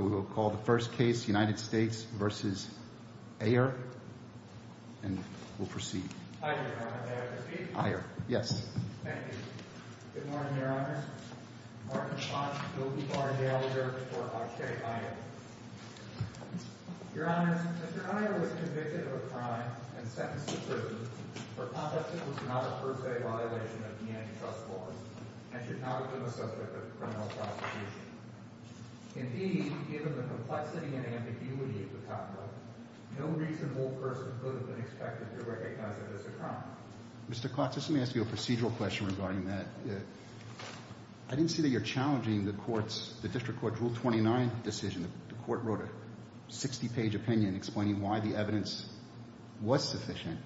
Good morning, Your Honor. Martin Blanc, Guilty Bar Gallagher, Court Archive, I am. Your Honor, Mr. Aiyer was convicted of a crime and sentenced to prison for conduct that was not a per se violation of the antitrust laws and should not have been the subject of criminal prosecution. Indeed, given the complexity and ambiguity of the topic, no reasonable person could have been expected to recognize it as a crime. Mr. Klotz, let me ask you a procedural question regarding that. I didn't see that you're challenging the District Court's Rule 29 decision. The Court wrote a 60-page opinion explaining why the evidence was sufficient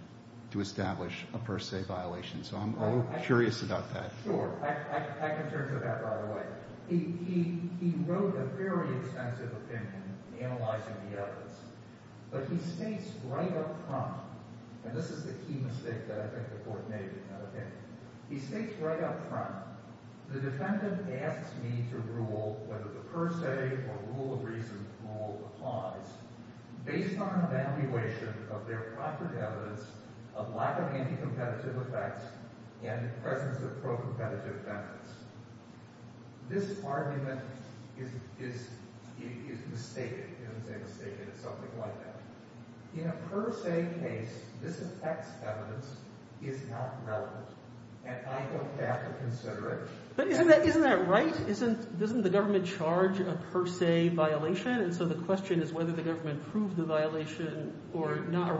to establish a per se violation, so I'm curious about that. Sure. I can turn to that right away. He wrote a very extensive opinion analyzing the evidence, but he states right up front, and this is the key mistake that I think the Court made in that opinion. He states right up front, the defendant asks me to rule whether the per se or rule of reason rule applies based on an evaluation of their proctored evidence of lack of anti-competitive effects and presence of pro-competitive benefits. This argument is mistaken. It's mistaken. It's something like that. In a per se case, this effects evidence is not relevant, and I don't have to consider it. But isn't that right? Doesn't the government charge a per se violation, and so the question is whether the government proved the violation or not,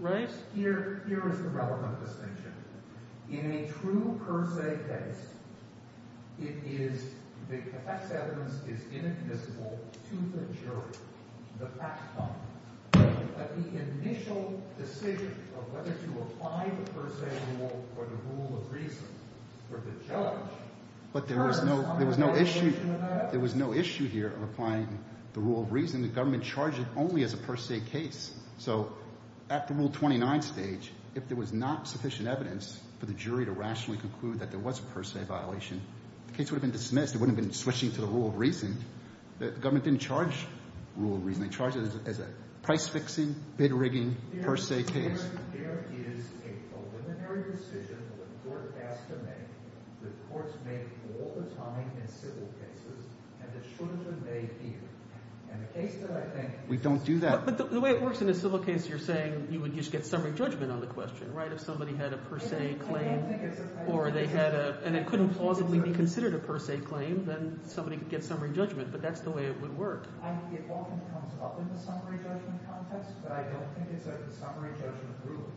right? Here is the relevant distinction. In a true per se case, it is, the effects evidence is inadmissible to the jury, the fact bomb, but the initial decision of whether to apply the per se rule or the rule of reason for the judge, but there was no issue here of applying the rule of reason. The government charged it only as a per se case, so at the Rule 29 stage, if there was not sufficient evidence for the jury to rationally conclude that there was a per se violation, the case would have been dismissed. It wouldn't have been switching to the rule of reason. The government didn't charge rule of reason. They charged it as a price-fixing, bid-rigging per se case. There is a preliminary decision that the court has to make that courts make all the time in civil cases, and it should have been made here, and the case that I think… We don't do that. But the way it works in a civil case, you're saying you would just get summary judgment on the question, right? If somebody had a per se claim or they had a – and it couldn't plausibly be considered a per se claim, then somebody could get summary judgment, but that's the way it would work. It often comes up in the summary judgment context, but I don't think it's a summary judgment ruling.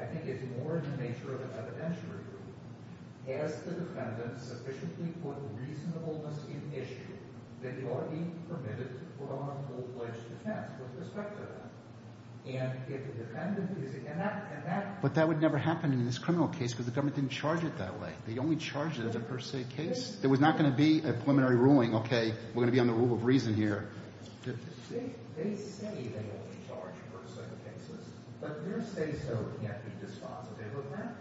I think it's more in the nature of an evidentiary ruling. Has the defendant sufficiently put reasonableness in issue that you are being permitted to put on a full-fledged defense with respect to that? And if the defendant is – and that… But that would never happen in this criminal case because the government didn't charge it that way. They only charged it as a per se case. There was not going to be a preliminary ruling, okay, we're going to be on the rule of reason here. They say they only charge per se cases, but their say-so can't be dispositive of that.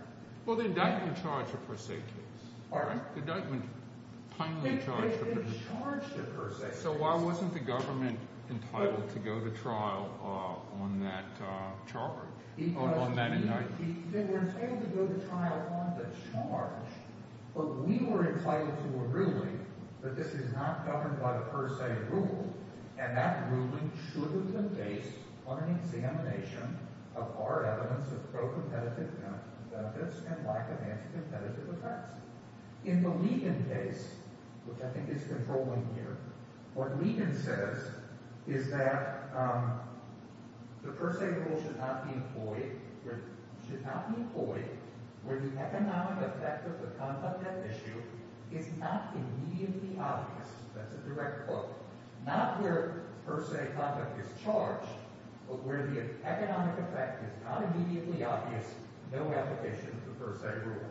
Well, the indictment charged a per se case. All right. The indictment finally charged a per se case. It charged a per se case. So why wasn't the government entitled to go to trial on that charge – on that indictment? They were entitled to go to trial on the charge, but we were entitled to a ruling that this is not governed by the per se rule. And that ruling should have been based on an examination of our evidence of pro-competitive benefits and lack of anti-competitive effects. In the Levin case, which I think is controlling here, what Levin says is that the per se rule should not be employed where the economic effect of the conduct at issue is not immediately obvious. That's a direct quote. Not where per se conduct is charged, but where the economic effect is not immediately obvious, no application of the per se rule.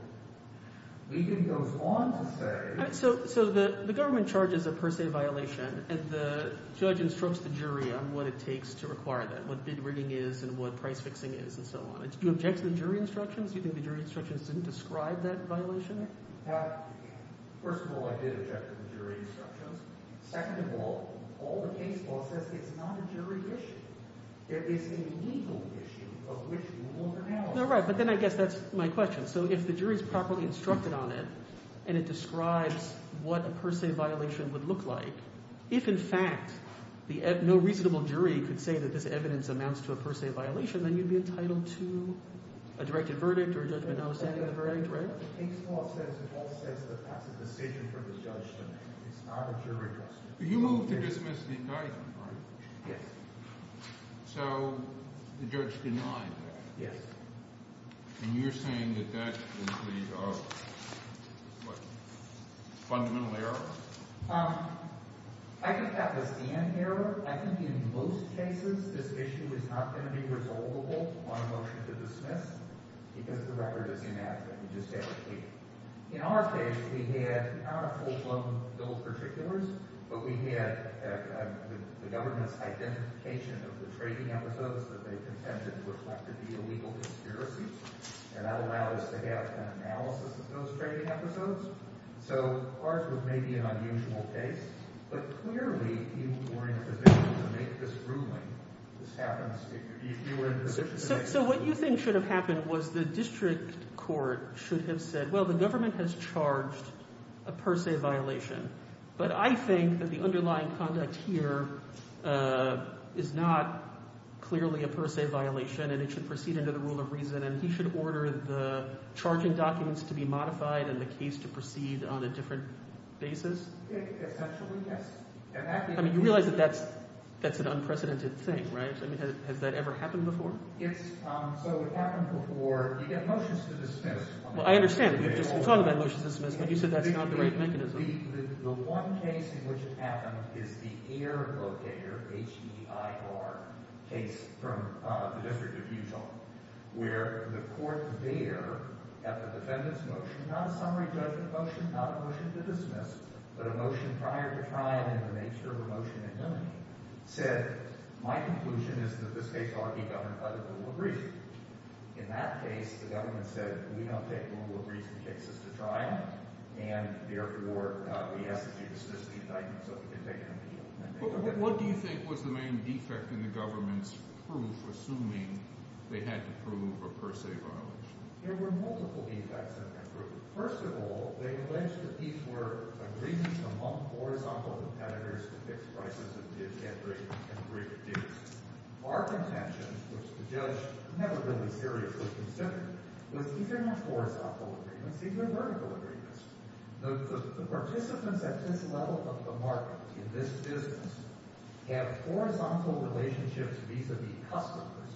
Levin goes on to say – So the government charges a per se violation, and the judge instructs the jury on what it takes to require that, what bid rigging is and what price fixing is and so on. Do you object to the jury instructions? Do you think the jury instructions didn't describe that violation? First of all, I did object to the jury instructions. Second of all, all the case law says it's not a jury issue. It is a legal issue of which you will be held accountable. Right, but then I guess that's my question. So if the jury is properly instructed on it and it describes what a per se violation would look like, if in fact no reasonable jury could say that this evidence amounts to a per se violation, then you'd be entitled to a directed verdict or a judgment notwithstanding the verdict, right? That's what the case law says. It also says that that's a decision for the judge to make. It's not a jury decision. But you moved to dismiss the indictment, right? Yes. So the judge denied that. Yes. And you're saying that that is the, what, fundamental error? I think that was the end error. I think in most cases this issue is not going to be resolvable on a motion to dismiss because the record is inadequate. In our case, we had not a full blown bill of particulars, but we had the government's identification of the trading episodes that they contended reflected the illegal conspiracies. And that allows to have an analysis of those trading episodes. So ours was maybe an unusual case. But clearly you were in a position to make this ruling. This happens if you were in a position to make this ruling. So what you think should have happened was the district court should have said, well, the government has charged a per se violation, but I think that the underlying conduct here is not clearly a per se violation and it should proceed under the rule of reason. And then he should order the charging documents to be modified and the case to proceed on a different basis? Essentially, yes. I mean, you realize that that's an unprecedented thing, right? I mean, has that ever happened before? So it happened before. You get motions to dismiss. Well, I understand. You're just talking about motions to dismiss, but you said that's not the right mechanism. The one case in which it happened is the air locator, H-E-I-R, case from the District of Utah, where the court there at the defendant's motion, not a summary judgment motion, not a motion to dismiss, but a motion prior to trial in the nature of a motion to eliminate, said, my conclusion is that this case ought to be governed by the rule of reason. In that case, the government said, we don't take rule of reason cases to trial, and therefore, we ask that you dismiss the indictment so we can take an appeal. What do you think was the main defect in the government's proof, assuming they had to prove a per se violation? There were multiple defects in that proof. First of all, they alleged that these were agreements among horizontal competitors to fix prices of did, get, break, and break digs. Our contention, which the judge never really seriously considered, was these are not horizontal agreements. These are vertical agreements. The participants at this level of the market in this business have horizontal relationships vis-a-vis customers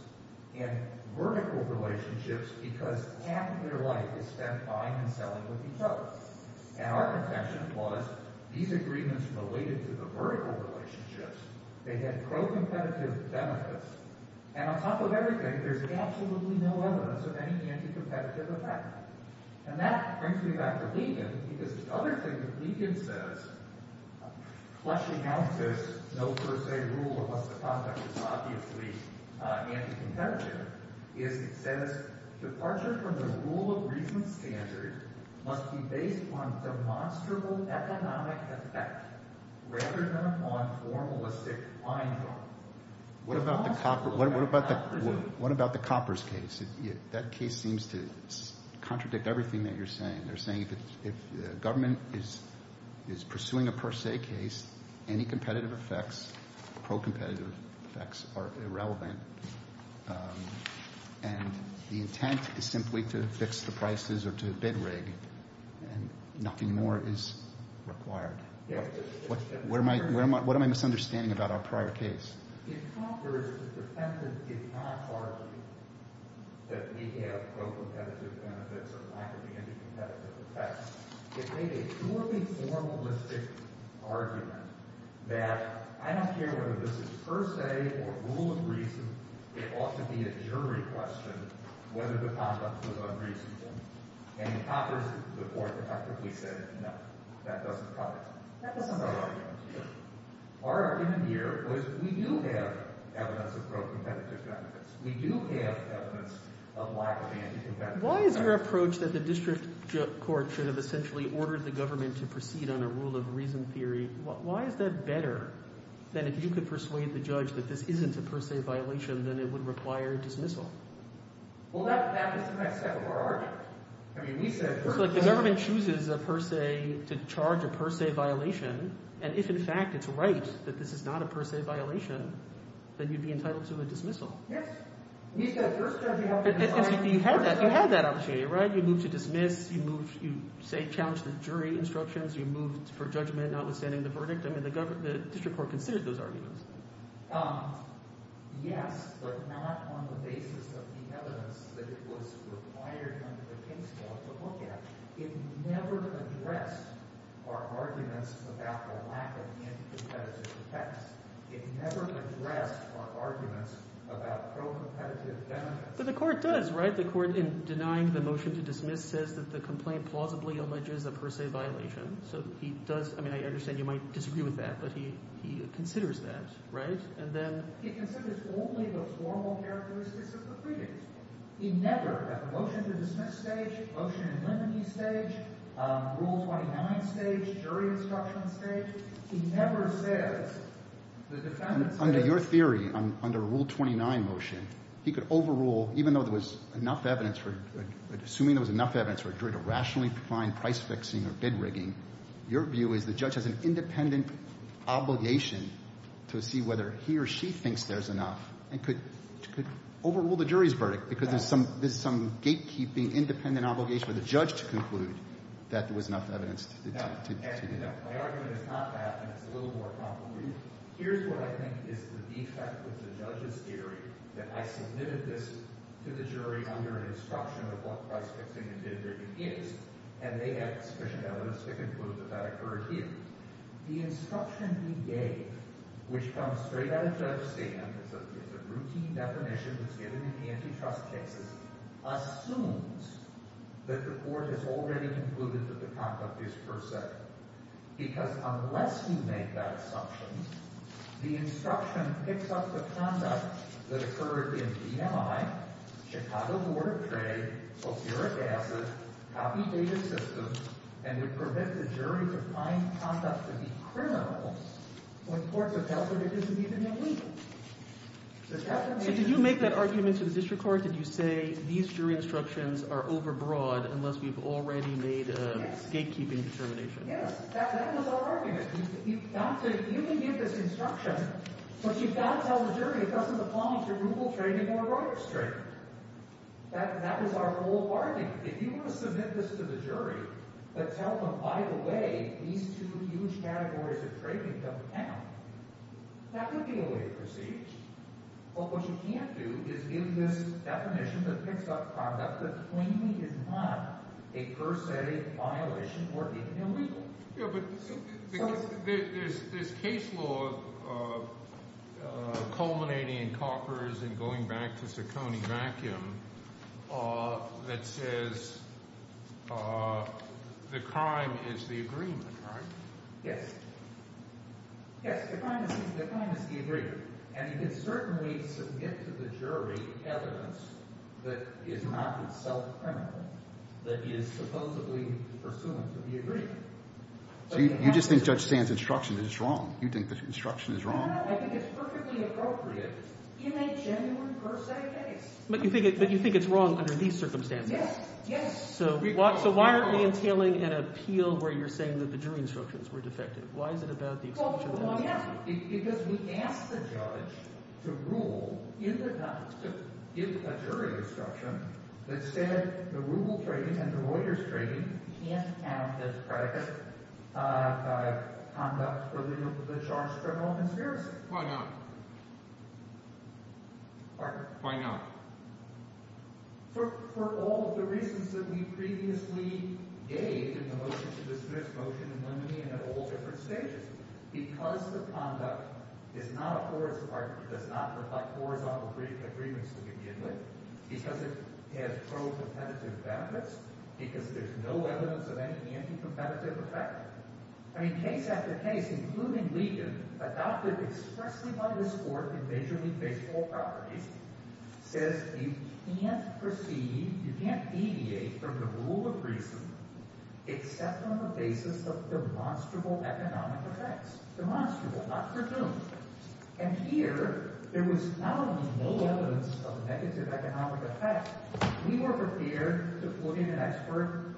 and vertical relationships because half their life is spent buying and selling with each other. And our contention was these agreements related to the vertical relationships. They had pro-competitive benefits. And on top of everything, there's absolutely no evidence of any anti-competitive effect. And that brings me back to Ligon because the other thing that Ligon says, fleshing out this no-per-se rule of what's the prospect is obviously anti-competitive, is it says, departure from the rule of reason standard must be based on demonstrable economic effect rather than upon formalistic blindfold. What about the Copper's case? That case seems to contradict everything that you're saying. They're saying if the government is pursuing a per-se case, any competitive effects, pro-competitive effects are irrelevant. And the intent is simply to fix the prices or to bid rig and nothing more is required. What am I misunderstanding about our prior case? In Copper's defense, it did not argue that we have pro-competitive benefits or lack of any competitive effects. It made a purely formalistic argument that I don't care whether this is per-se or rule of reason. It ought to be a jury question whether the conduct was unreasonable. And Copper's report effectively said, no, that doesn't cut it. That doesn't cut it. Our argument here was we do have evidence of pro-competitive benefits. We do have evidence of lack of anti-competitive benefits. Why is your approach that the district court should have essentially ordered the government to proceed on a rule of reason theory, why is that better than if you could persuade the judge that this isn't a per-se violation, then it would require dismissal? Well, that is the next step of our argument. It's like the government chooses a per-se to charge a per-se violation. And if, in fact, it's right that this is not a per-se violation, then you'd be entitled to a dismissal. Yes. You had that opportunity, right? You moved to dismiss. You challenged the jury instructions. You moved for judgment notwithstanding the verdict. The district court considered those arguments. Yes, but not on the basis of the evidence that was required under the case law to look at. It never addressed our arguments about the lack of anti-competitive effects. It never addressed our arguments about pro-competitive benefits. But the court does, right? The court, in denying the motion to dismiss, says that the complaint plausibly alleges a per-se violation. So he does—I mean, I understand you might disagree with that, but he considers that, right? And then— He considers only the formal characteristics of the previous one. He never, at the motion to dismiss stage, motion in limine stage, Rule 29 stage, jury instruction stage, he never says the defendant's— Under your theory, under Rule 29 motion, he could overrule, even though there was enough evidence for—assuming there was enough evidence for a jury to rationally find price fixing or bid rigging, your view is the judge has an independent obligation to see whether he or she thinks there's enough and could overrule the jury's verdict because there's some gatekeeping, independent obligation for the judge to conclude that there was enough evidence to do that. My argument is not that, and it's a little more complicated. Here's what I think is the defect with the judge's theory, that I submitted this to the jury under an instruction of what price fixing and bid rigging is, and they had sufficient evidence to conclude that that occurred here. The instruction he gave, which comes straight out of the judge's statement, it's a routine definition that's given in antitrust cases, assumes that the court has already concluded that the conduct is per se, because unless you make that assumption, the instruction picks up the conduct that occurred in GMI, Chicago Board of Trade, fosferic acid, copy data systems, and it prevents the jury from finding conduct to be criminal when courts have held that it isn't even illegal. So did you make that argument to the district court? Did you say these jury instructions are overbroad unless we've already made a gatekeeping determination? Yes. That was our argument. You can give this instruction, but you've got to tell the jury it doesn't apply to rural trading or rural trading. That was our whole argument. If you were to submit this to the jury, but tell them, by the way, these two huge categories of trading don't count, that would be a way to proceed. But what you can't do is give this definition that picks up conduct that claiming is not a per se violation or even illegal. Yeah, but there's case law culminating in Coppers and going back to Ciccone Vacuum that says the crime is the agreement, right? Yes. Yes, the crime is the agreement. And you can certainly submit to the jury evidence that is not itself criminal, that is supposedly pursuant to the agreement. So you just think Judge Sand's instruction is wrong? You think the instruction is wrong? No, no, no. I think it's perfectly appropriate in a genuine per se case. But you think it's wrong under these circumstances? Yes. Yes. So why aren't we entailing an appeal where you're saying that the jury instructions were defective? Why is it about the exclusion of evidence? Oh, yeah, because we asked the judge to rule in the – to give a jury instruction that said the Rubel trading and the Reuters trading can't count as predicate conduct for the charge of criminal conspiracy. Why not? Pardon? Why not? For all of the reasons that we previously gave in the motion to dismiss motion in Lemony and at all different stages. Because the conduct is not a forest park, it does not reflect horizontal agreements to begin with. Because it has pro-competitive benefits. Because there's no evidence of any anti-competitive effect. I mean, case after case, including Ligon, adopted expressly by this court in Major League Baseball properties, says you can't proceed – you can't deviate from the rule of reason except on the basis of demonstrable economic effects. Demonstrable, not presumed. And here there was not only no evidence of negative economic effect. We were prepared to put in an expert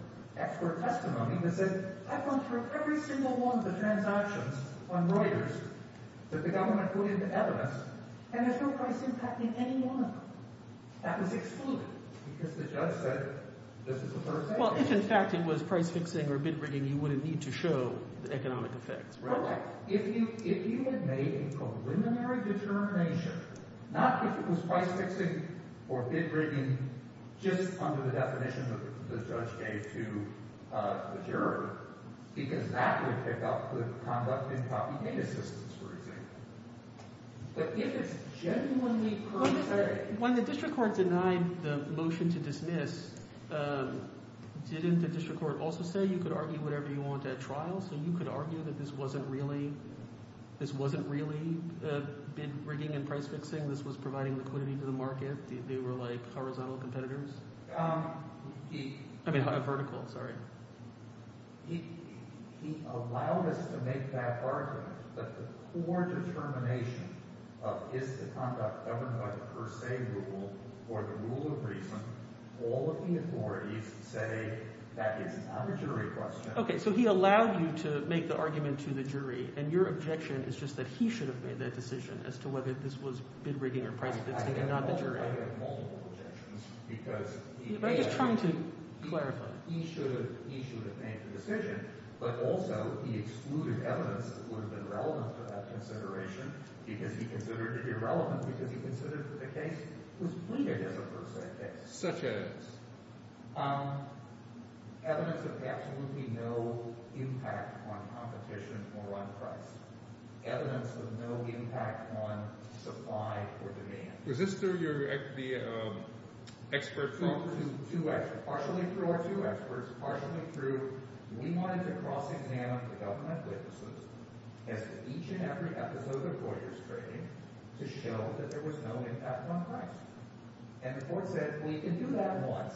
testimony that said I've gone through every single one of the transactions on Reuters that the government put into evidence, and there's no price impact in any one of them. That was excluded because the judge said this is a third sector. Well, if in fact it was price-fixing or bid-rigging, you wouldn't need to show the economic effects, right? If you had made a preliminary determination, not if it was price-fixing or bid-rigging just under the definition that the judge gave to the juror, because that would pick up the conduct in copy data systems, for example. But if it's genuinely – When the district court denied the motion to dismiss, didn't the district court also say you could argue whatever you want at trial? So you could argue that this wasn't really bid-rigging and price-fixing? This was providing liquidity to the market? They were like horizontal competitors? I mean vertical, sorry. He allowed us to make that argument that the core determination of is the conduct governed by the per se rule or the rule of reason, all of the authorities say that is not a jury question. Okay, so he allowed you to make the argument to the jury, and your objection is just that he should have made that decision as to whether this was bid-rigging or price-fixing and not the jury. I have multiple objections because he did. I'm just trying to clarify. He should have made the decision, but also he excluded evidence that would have been relevant to that consideration because he considered it irrelevant because he considered the case was bid-rigging as a per se case. Such as? Evidence of absolutely no impact on competition or on price. Evidence of no impact on supply or demand. Was this through the expert – Partially through our two experts, partially through – we wanted to cross-examine the government witnesses as to each and every episode of Reuters trading to show that there was no impact on price. And the court said we can do that once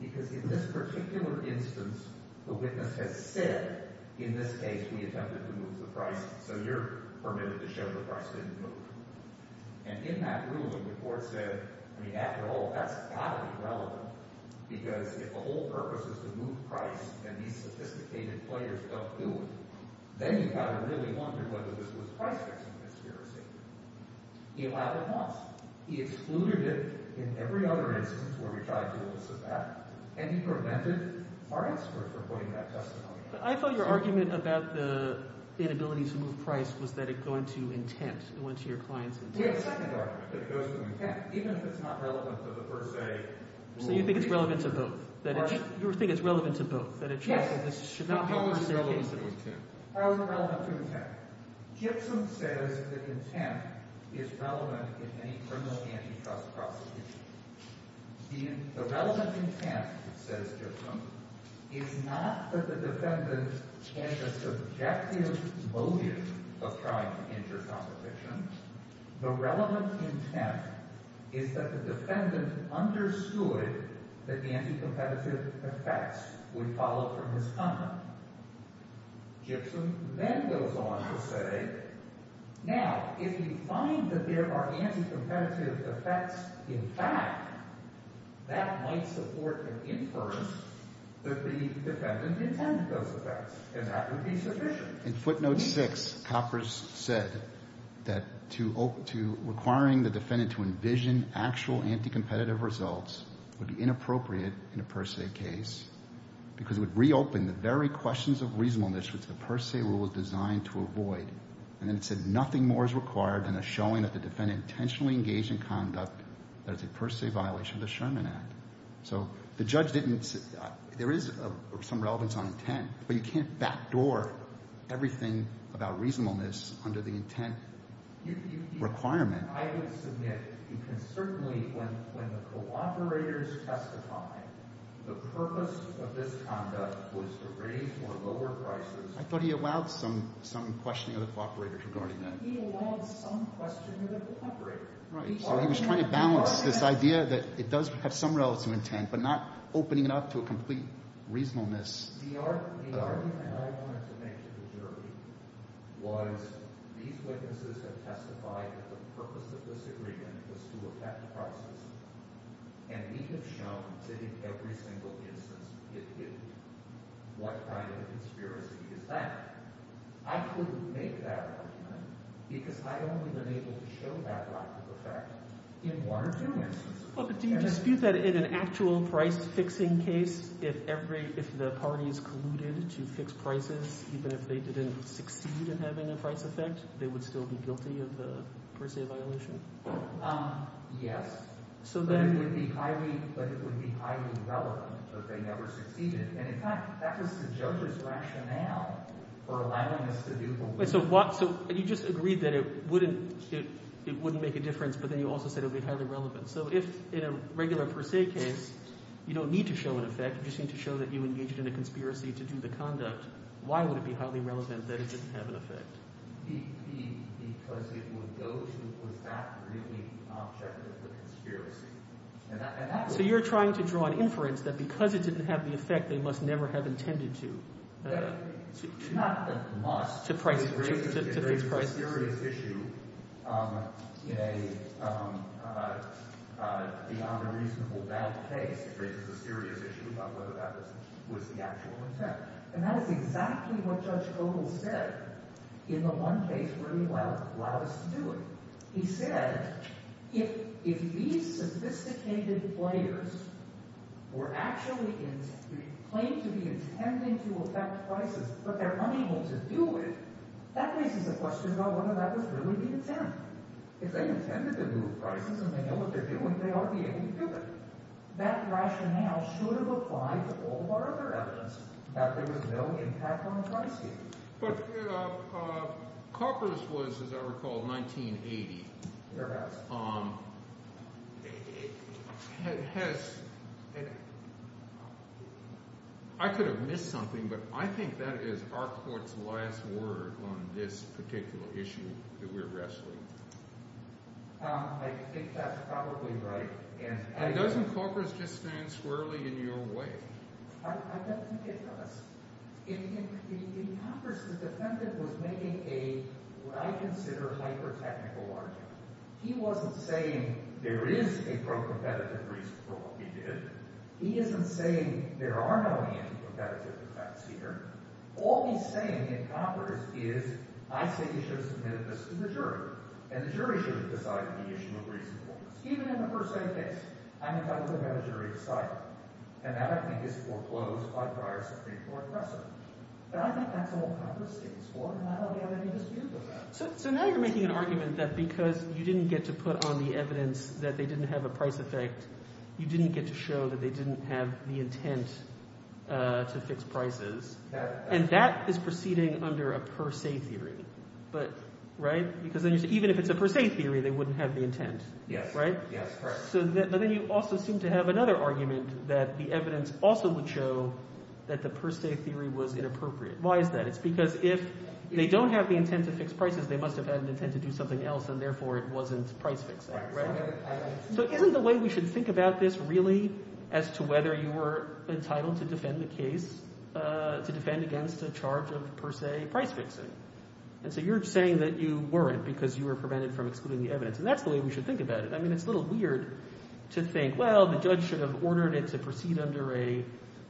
because in this particular instance, the witness has said in this case we attempted to move the price, so you're permitted to show the price didn't move. And in that ruling, the court said, I mean, after all, that's got to be relevant because if the whole purpose is to move price and these sophisticated players don't do it, then you've got to really wonder whether this was price-fixing conspiracy. He allowed it once. He excluded it in every other instance where we tried to elicit that, and he prevented our expert from putting that testimony out. But I thought your argument about the inability to move price was that it went to intent. It went to your client's intent. We have a second argument that it goes to intent, even if it's not relevant to the per se – So you think it's relevant to both? You think it's relevant to both? Yes. How is it relevant to intent? Gibson says that intent is relevant in any criminal antitrust prosecution. The relevant intent, says Gibson, is not that the defendant has a subjective motive of trying to injure competition. The relevant intent is that the defendant understood that the anticompetitive effects would follow from his conduct. Gibson then goes on to say, now, if we find that there are anticompetitive effects in fact, that might support an inference that the defendant intended those effects, and that would be sufficient. In footnote 6, Coppers said that requiring the defendant to envision actual anticompetitive results would be inappropriate in a per se case because it would reopen the very questions of reasonableness which the per se rule was designed to avoid. And then it said nothing more is required than a showing that the defendant intentionally engaged in conduct that is a per se violation of the Sherman Act. So the judge didn't, there is some relevance on intent, but you can't backdoor everything about reasonableness under the intent requirement. I would submit, you can certainly, when the cooperators testify, the purpose of this conduct was to raise or lower prices. I thought he allowed some questioning of the cooperator regarding that. He allowed some questioning of the cooperator. So he was trying to balance this idea that it does have some relative intent, but not opening it up to a complete reasonableness. The argument I wanted to make to the jury was these witnesses have testified that the purpose of this agreement was to attack the prices, and we have shown that in every single instance it didn't. What kind of conspiracy is that? I couldn't make that argument because I've only been able to show that lack of effect in one or two instances. Do you dispute that in an actual price fixing case if every, if the parties colluded to fix prices, even if they didn't succeed in having a price effect, they would still be guilty of the per se violation? Yes. So then – But it would be highly relevant that they never succeeded. And in fact, that was the judge's rationale for allowing us to do the work. So you just agreed that it wouldn't make a difference, but then you also said it would be highly relevant. So if in a regular per se case you don't need to show an effect, you just need to show that you engaged in a conspiracy to do the conduct, why would it be highly relevant that it didn't have an effect? Because it would go to, was that really the object of the conspiracy? So you're trying to draw an inference that because it didn't have the effect, they must never have intended to. Not must. To fix prices. It raises a serious issue beyond a reasonable doubt case. It raises a serious issue about whether that was the actual intent. And that is exactly what Judge Vogel said in the one case where he allowed us to do it. He said if these sophisticated players were actually – claimed to be intending to affect prices, but they're unable to do it, that raises a question about whether that was really the intent. If they intended to move prices and they know what they're doing, they ought to be able to do it. That rationale should have applied to all of our other evidence that there was no impact on pricing. But Corpus was, as I recall, 1980. It has – I could have missed something, but I think that is our court's last word on this particular issue that we're wrestling. I think that's probably right. And doesn't Corpus just stand squarely in your way? I don't think it does. In Corpus, the defendant was making a, what I consider, hyper-technical argument. He wasn't saying there is a pro-competitive reason for what we did. He isn't saying there are no anti-competitive effects here. All he's saying in Corpus is I say you should have submitted this to the jury, and the jury should have decided the issue of reasonableness. Even in the per se case, I'm entitled to the jury to decide, and that, I think, is foreclosed by prior Supreme Court precedent. But I think that's all Corpus stands for, and I don't have any dispute with that. So now you're making an argument that because you didn't get to put on the evidence that they didn't have a price effect, you didn't get to show that they didn't have the intent to fix prices, and that is proceeding under a per se theory. Right? Because then you say even if it's a per se theory, they wouldn't have the intent. Right? So then you also seem to have another argument that the evidence also would show that the per se theory was inappropriate. Why is that? It's because if they don't have the intent to fix prices, they must have had an intent to do something else, and therefore it wasn't price fixing. So isn't the way we should think about this really as to whether you were entitled to defend the case, to defend against a charge of per se price fixing? And so you're saying that you weren't because you were prevented from excluding the evidence, and that's the way we should think about it. I mean it's a little weird to think, well, the judge should have ordered it to proceed under a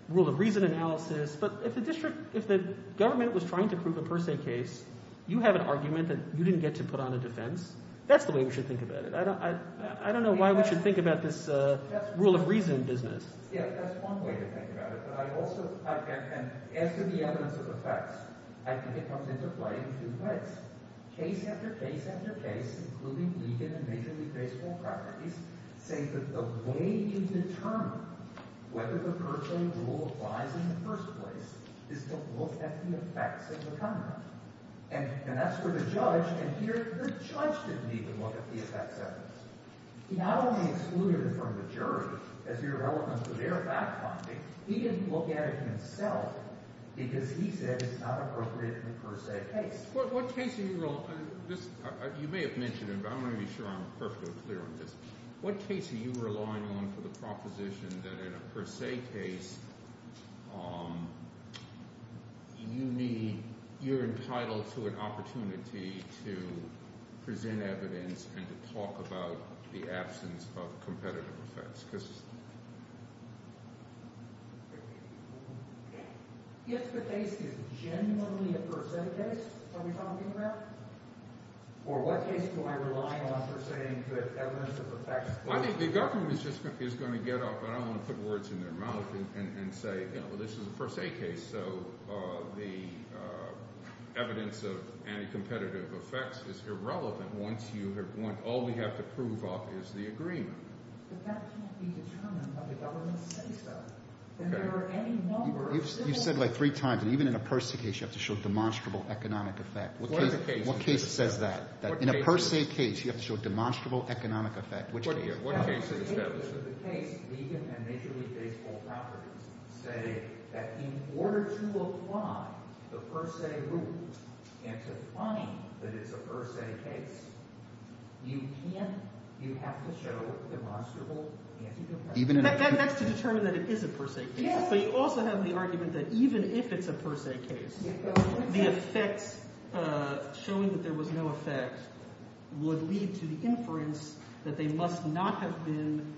rule of reason analysis. But if the district – if the government was trying to prove a per se case, you have an argument that you didn't get to put on a defense. That's the way we should think about it. I don't know why we should think about this rule of reason business. Yeah, that's one way to think about it. But I also – and as to the evidence of effects, I think it comes into play in two ways. Case after case after case, including legal and majorly graceful properties, say that the way you determine whether the per se rule applies in the first place is to look at the effects of the comment. And that's for the judge. And here the judge didn't even look at the effects evidence. He not only excluded it from the jury as irrelevant to their fact-finding. He didn't look at it himself because he said it's not appropriate in a per se case. You may have mentioned it, but I want to be sure I'm perfectly clear on this. What case are you relying on for the proposition that in a per se case you need – you're entitled to an opportunity to present evidence and to talk about the absence of competitive effects? If the case is genuinely a per se case, are we talking about? Or what case do I rely on for saying that evidence of effects – I think the government is just going to get up and I don't want to put words in their mouth and say, well, this is a per se case, so the evidence of anti-competitive effects is irrelevant once you have – all we have to prove off is the agreement. But that can't be determined by what the government says, though. If there are any numbers – You've said it like three times. And even in a per se case, you have to show demonstrable economic effect. What case says that? In a per se case, you have to show demonstrable economic effect. What case is that? The evidence of the case, Ligon and Major League Baseball Properties, say that in order to apply the per se rules and to find that it's a per se case, you can't – you have to show demonstrable anti-competitive effect. That's to determine that it is a per se case. But you also have the argument that even if it's a per se case, the effects – showing that there was no effect would lead to the inference that they must not have been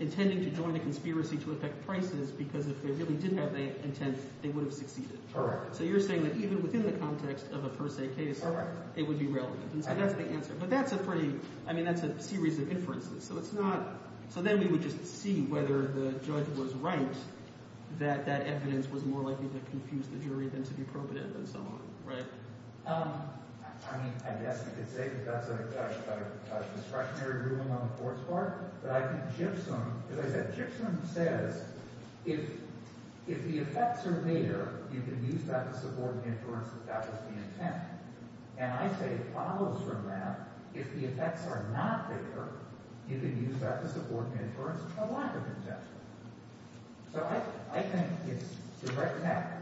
intending to join a conspiracy to affect prices because if they really did have the intent, they would have succeeded. So you're saying that even within the context of a per se case, it would be relevant. And so that's the answer. But that's a pretty – I mean that's a series of inferences. So it's not – so then we would just see whether the judge was right that that evidence was more likely to confuse the jury than to be probative and so on. Right. I mean I guess you could say that that's a discretionary ruling on the court's part. But I think Gypsum – because I said Gypsum says if the effects are there, you can use that to support the inference that that was the intent. And I say it follows from that. If the effects are not there, you can use that to support the inference of a lack of intent. So I think it's – the question is that.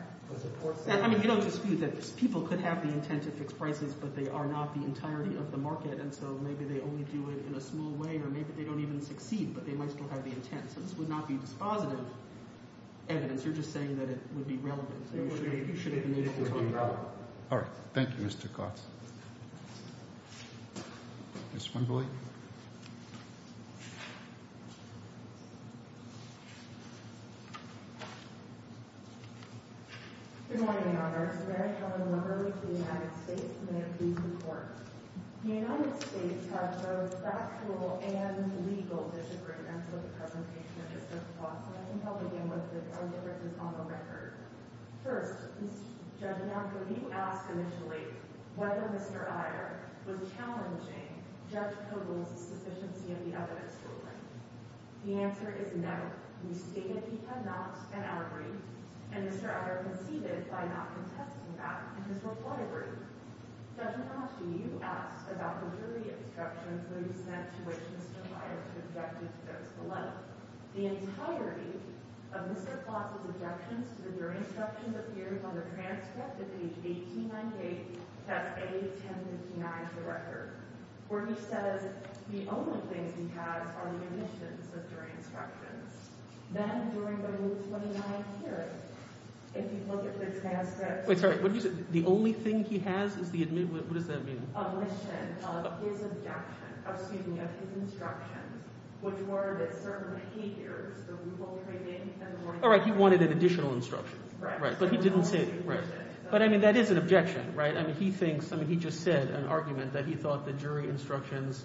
I mean you don't dispute that people could have the intent to fix prices, but they are not the entirety of the market. And so maybe they only do it in a small way or maybe they don't even succeed, but they might still have the intent. So this would not be dispositive evidence. You're just saying that it would be relevant. You should have been able to talk about it. All right. Thank you, Mr. Kotz. Ms. Wimbley. Good morning, Your Honor. I'm Mary Helen Wimbley of the United States, and I approve the report. The United States has both factual and legal disagreements with the presentation of this judgment. So I think I'll begin with the differences on the record. First, Judge Malkin, you asked initially whether Mr. Iyer was challenging Judge Kogel's sufficiency of the evidence ruling. The answer is no. You stated he had not, and I agree. And Mr. Iyer conceded by not contesting that in his report, I agree. Judge Malkin, you asked about the jury instructions that were sent to which Mr. Iyer objected to those below. The entirety of Mr. Kotz's objections to the jury instructions appears on the transcript at page 1898, test A-1059 of the record, where he says the only things he has are the omissions of jury instructions. Then, during the 29th period, if you look at the transcripts— Wait, sorry. What did you say? The only thing he has is the—what does that mean? —omission of his objection—excuse me, of his instructions, which were that certain behaviors, the rule-breaking and the warning— All right. He wanted an additional instruction. Right. But he didn't say— Right. But, I mean, that is an objection, right? I mean, he thinks—I mean, he just said an argument that he thought the jury instructions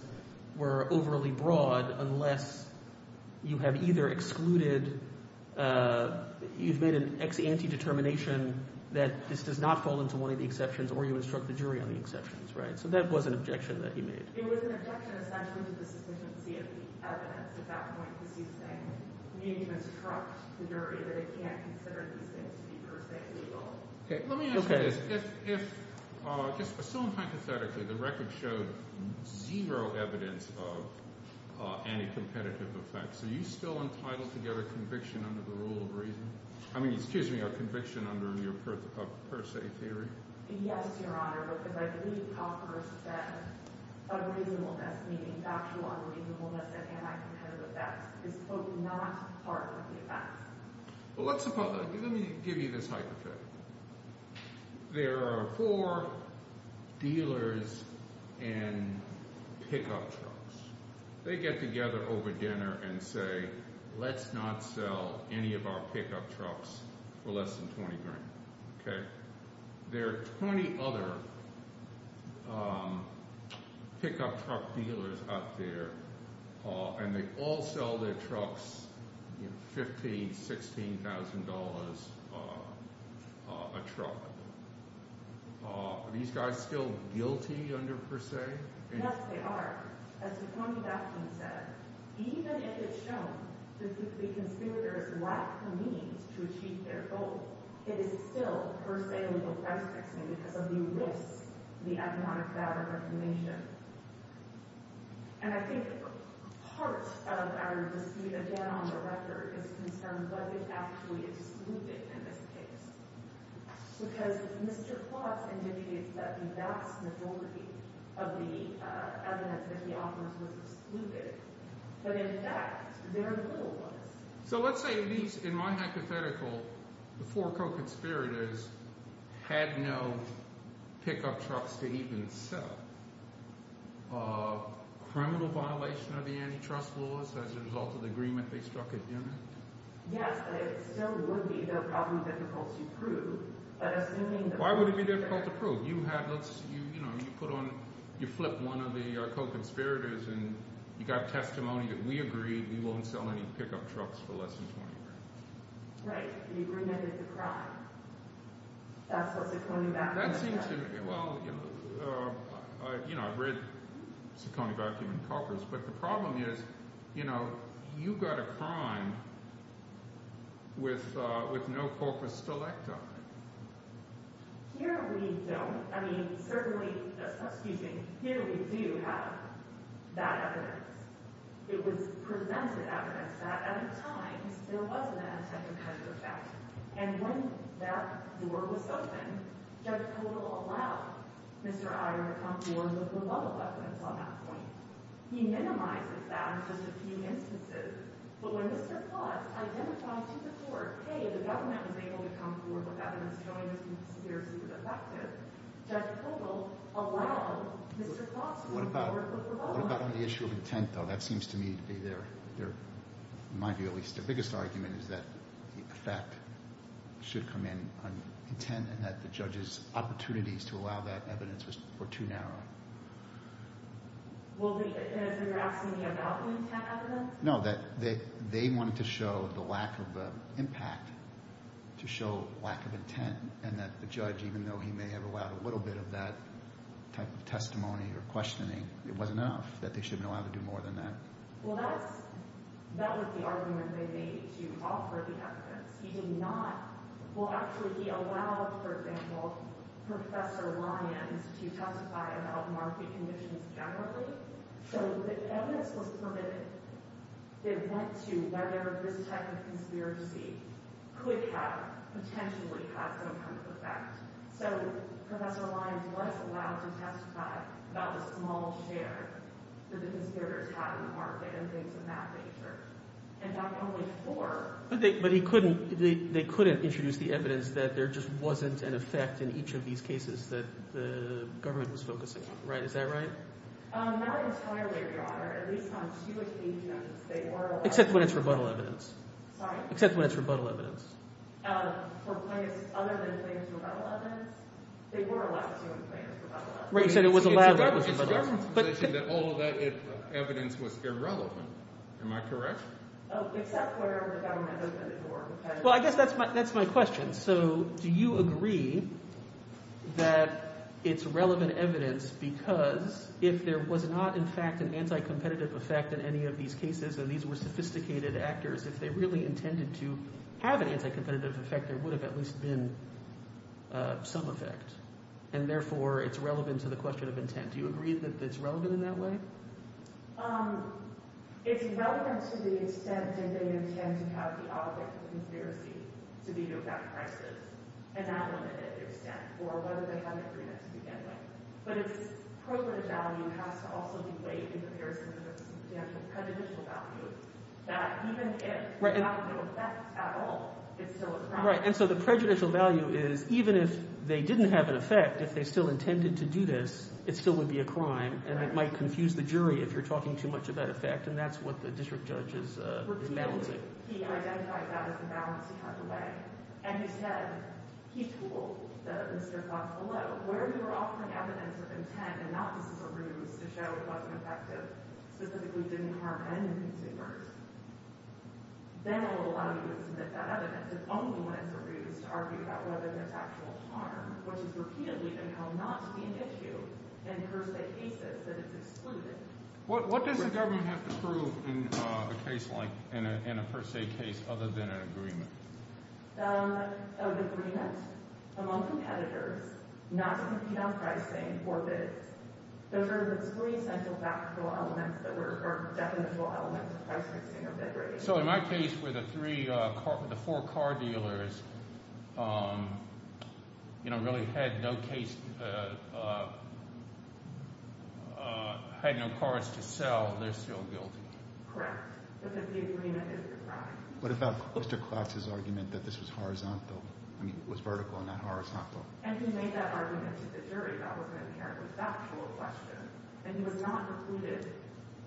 were overly broad unless you have either excluded— you've made an ex ante determination that this does not fall into one of the exceptions or you instruct the jury on the exceptions, right? So that was an objection that he made. It was an objection, essentially, to the sufficiency of the evidence at that point, because he's saying you need to instruct the jury that it can't consider these things to be, per se, legal. Okay. Let me ask you this. If—just assume hypothetically the record showed zero evidence of anti-competitive effects. Are you still entitled to get a conviction under the rule of reason? I mean, excuse me, a conviction under your per se theory? Yes, Your Honor, because I believe proper sense of reasonableness, meaning factual unreasonableness of anti-competitive effects, is, quote, not part of the effects. Well, let's suppose—let me give you this hypothetical. There are four dealers in pickup trucks. They get together over dinner and say, let's not sell any of our pickup trucks for less than 20 grand. Okay. There are 20 other pickup truck dealers out there, and they all sell their trucks, $15,000, $16,000 a truck. Are these guys still guilty under per se? Yes, they are. As before me, that being said, even if it's shown that the conspirators lack the means to achieve their goal, it is still, per se, legal precedent, because of the risks to the economic value of information. And I think part of our dispute, again, on the record, is concerned, was it actually excluded in this case? Because Mr. Klotz indicates that the vast majority of the evidence that he offers was excluded, but in fact their goal was— So let's say these—in my hypothetical, the four co-conspirators had no pickup trucks to even sell. Criminal violation of the antitrust laws as a result of the agreement they struck at dinner? Yes, it still would be, though probably difficult to prove. You flip one of the co-conspirators, and you've got testimony that we agreed we won't sell any pickup trucks for less than 20 grand. Right, but you remitted the crime. That's what Saccone Vacuum said. That seems to—well, I've read Saccone Vacuum and coppers, but the problem is you've got a crime with no corpus delecta. Here we don't. I mean, certainly—excuse me—here we do have that evidence. It was presented evidence that at times there was an antitrust effect, and when that door was open, Judge Koehler allowed Mr. Iyer to come forward with rebuttal evidence on that point. He minimizes that in just a few instances, but when Mr. Klotz identified to the court, hey, the government was able to come forward with evidence showing this conspiracy was effective, Judge Koehler allowed Mr. Klotz to come forward with rebuttal evidence. What about on the issue of intent, though? That seems to me to be their—in my view, at least, their biggest argument is that the effect should come in on intent and that the judge's opportunities to allow that evidence were too narrow. And you're asking me about the intent evidence? No, that they wanted to show the lack of impact, to show lack of intent, and that the judge, even though he may have allowed a little bit of that type of testimony or questioning, it wasn't enough, that they should have been allowed to do more than that. Well, that's—that was the argument they made to offer the evidence. He did not—well, actually, he allowed, for example, Professor Lyons to testify about market conditions generally, so the evidence was permitted. It went to whether this type of conspiracy could have potentially had some kind of effect. So Professor Lyons was allowed to testify about the small share that the conspirators had in the market and things of that nature. In fact, only four— But he couldn't—they couldn't introduce the evidence that there just wasn't an effect in each of these cases that the government was focusing on, right? Is that right? Not entirely, Your Honor. At least on two occasions, they were allowed— Except when it's rebuttal evidence. Sorry? Except when it's rebuttal evidence. For plaintiffs other than plaintiffs' rebuttal evidence? They were allowed to when plaintiffs' rebuttal evidence. Right, you said it was allowed when it was rebuttal evidence, but— It's my assumption that all of that evidence was irrelevant. Am I correct? Except where the government opened the door because— Well, I guess that's my question. So do you agree that it's relevant evidence because if there was not in fact an anti-competitive effect in any of these cases and these were sophisticated actors, if they really intended to have an anti-competitive effect, there would have at least been some effect, and therefore it's relevant to the question of intent. Do you agree that it's relevant in that way? It's relevant to the extent that they intend to have the object of conspiracy to veto back prices and that limited extent, or whether they have an agreement to begin with. But its appropriate value has to also be weighed in comparison to the potential prejudicial value that even if it had no effect at all, it's still a crime. Right, and so the prejudicial value is even if they didn't have an effect, if they still intended to do this, it still would be a crime, and it might confuse the jury if you're talking too much about effect, and that's what the district judge is balancing. He identified that as the balance he had to weigh, and he said – he told Mr. Fox below – where you were offering evidence of intent and not just as a ruse to show it wasn't effective, specifically didn't harm any consumers, then it will allow you to submit that evidence. It's only when it's a ruse to argue about whether there's actual harm, which is repeatedly been held not to be an issue in first-day cases that it's excluded. What does the government have to prove in a case like – in a first-day case other than an agreement? An agreement among competitors not to veto pricing or bids. Those are the three essential factual elements that were – or definitional elements of pricing or bid rating. So in my case where the three – the four car dealers really had no case – had no cars to sell, they're still guilty? Correct, because the agreement is a crime. What about Mr. Klax's argument that this was horizontal – I mean it was vertical and not horizontal? And he made that argument to the jury. That was an inherently factual question, and he was not recruited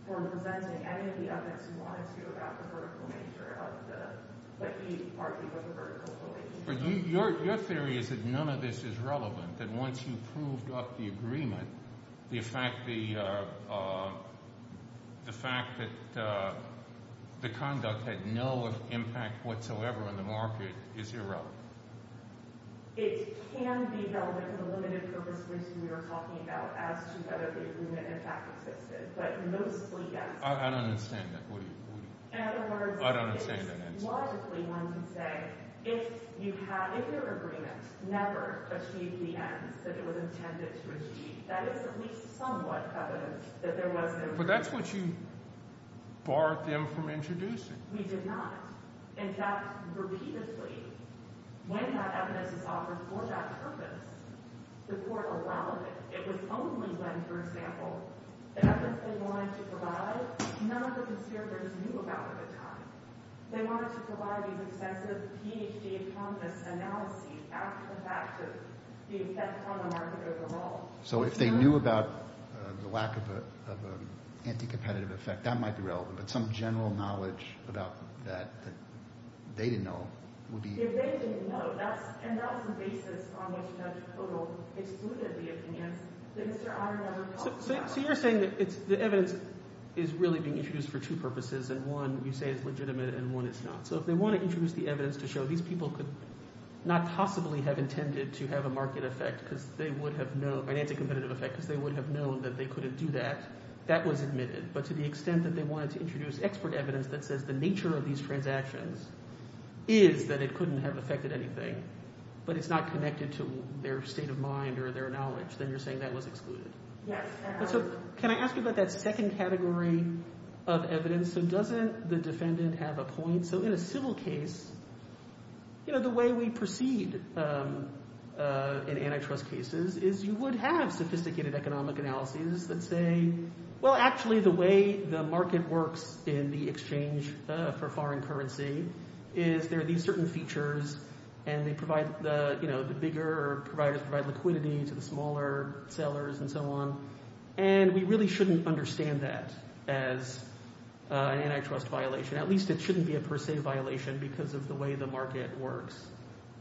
for presenting any of the evidence he wanted to about the vertical nature of the – but he partly was a vertical believer. Your theory is that none of this is relevant, that once you've proved up the agreement, the fact that the conduct had no impact whatsoever on the market is irrelevant. It can be relevant in the limited purpose reason we were talking about as to whether the agreement in fact existed, but mostly yes. I don't understand that. What do you – I don't understand that answer. In other words, it is logically one to say if you have – if your agreement never achieved the ends that it was intended to achieve, that is at least somewhat evidence that there was no – But that's what you barred them from introducing. We did not. In fact, repeatedly, when that evidence is offered for that purpose, the court allowed it. It was only when, for example, the evidence they wanted to provide none of the conspirators knew about at the time. They wanted to provide these excessive PhD economists' analyses after the fact of the effect on the market overall. So if they knew about the lack of an anti-competitive effect, that might be relevant. But some general knowledge about that that they didn't know would be – If they didn't know, that's – and that's the basis on which Judge Kodal excluded the opinions that Mr. Ayer never talked about. So you're saying that the evidence is really being introduced for two purposes, and one you say is legitimate and one is not. So if they want to introduce the evidence to show these people could not possibly have intended to have a market effect because they would have known – an anti-competitive effect because they would have known that they couldn't do that, that was admitted. But to the extent that they wanted to introduce expert evidence that says the nature of these transactions is that it couldn't have affected anything, but it's not connected to their state of mind or their knowledge, then you're saying that was excluded. Yes. Can I ask you about that second category of evidence? So doesn't the defendant have a point? So in a civil case, the way we proceed in antitrust cases is you would have sophisticated economic analyses that say, well, actually the way the market works in the exchange for foreign currency is there are these certain features and they provide – the bigger providers provide liquidity to the smaller sellers and so on. And we really shouldn't understand that as an antitrust violation. At least it shouldn't be a per se violation because of the way the market works.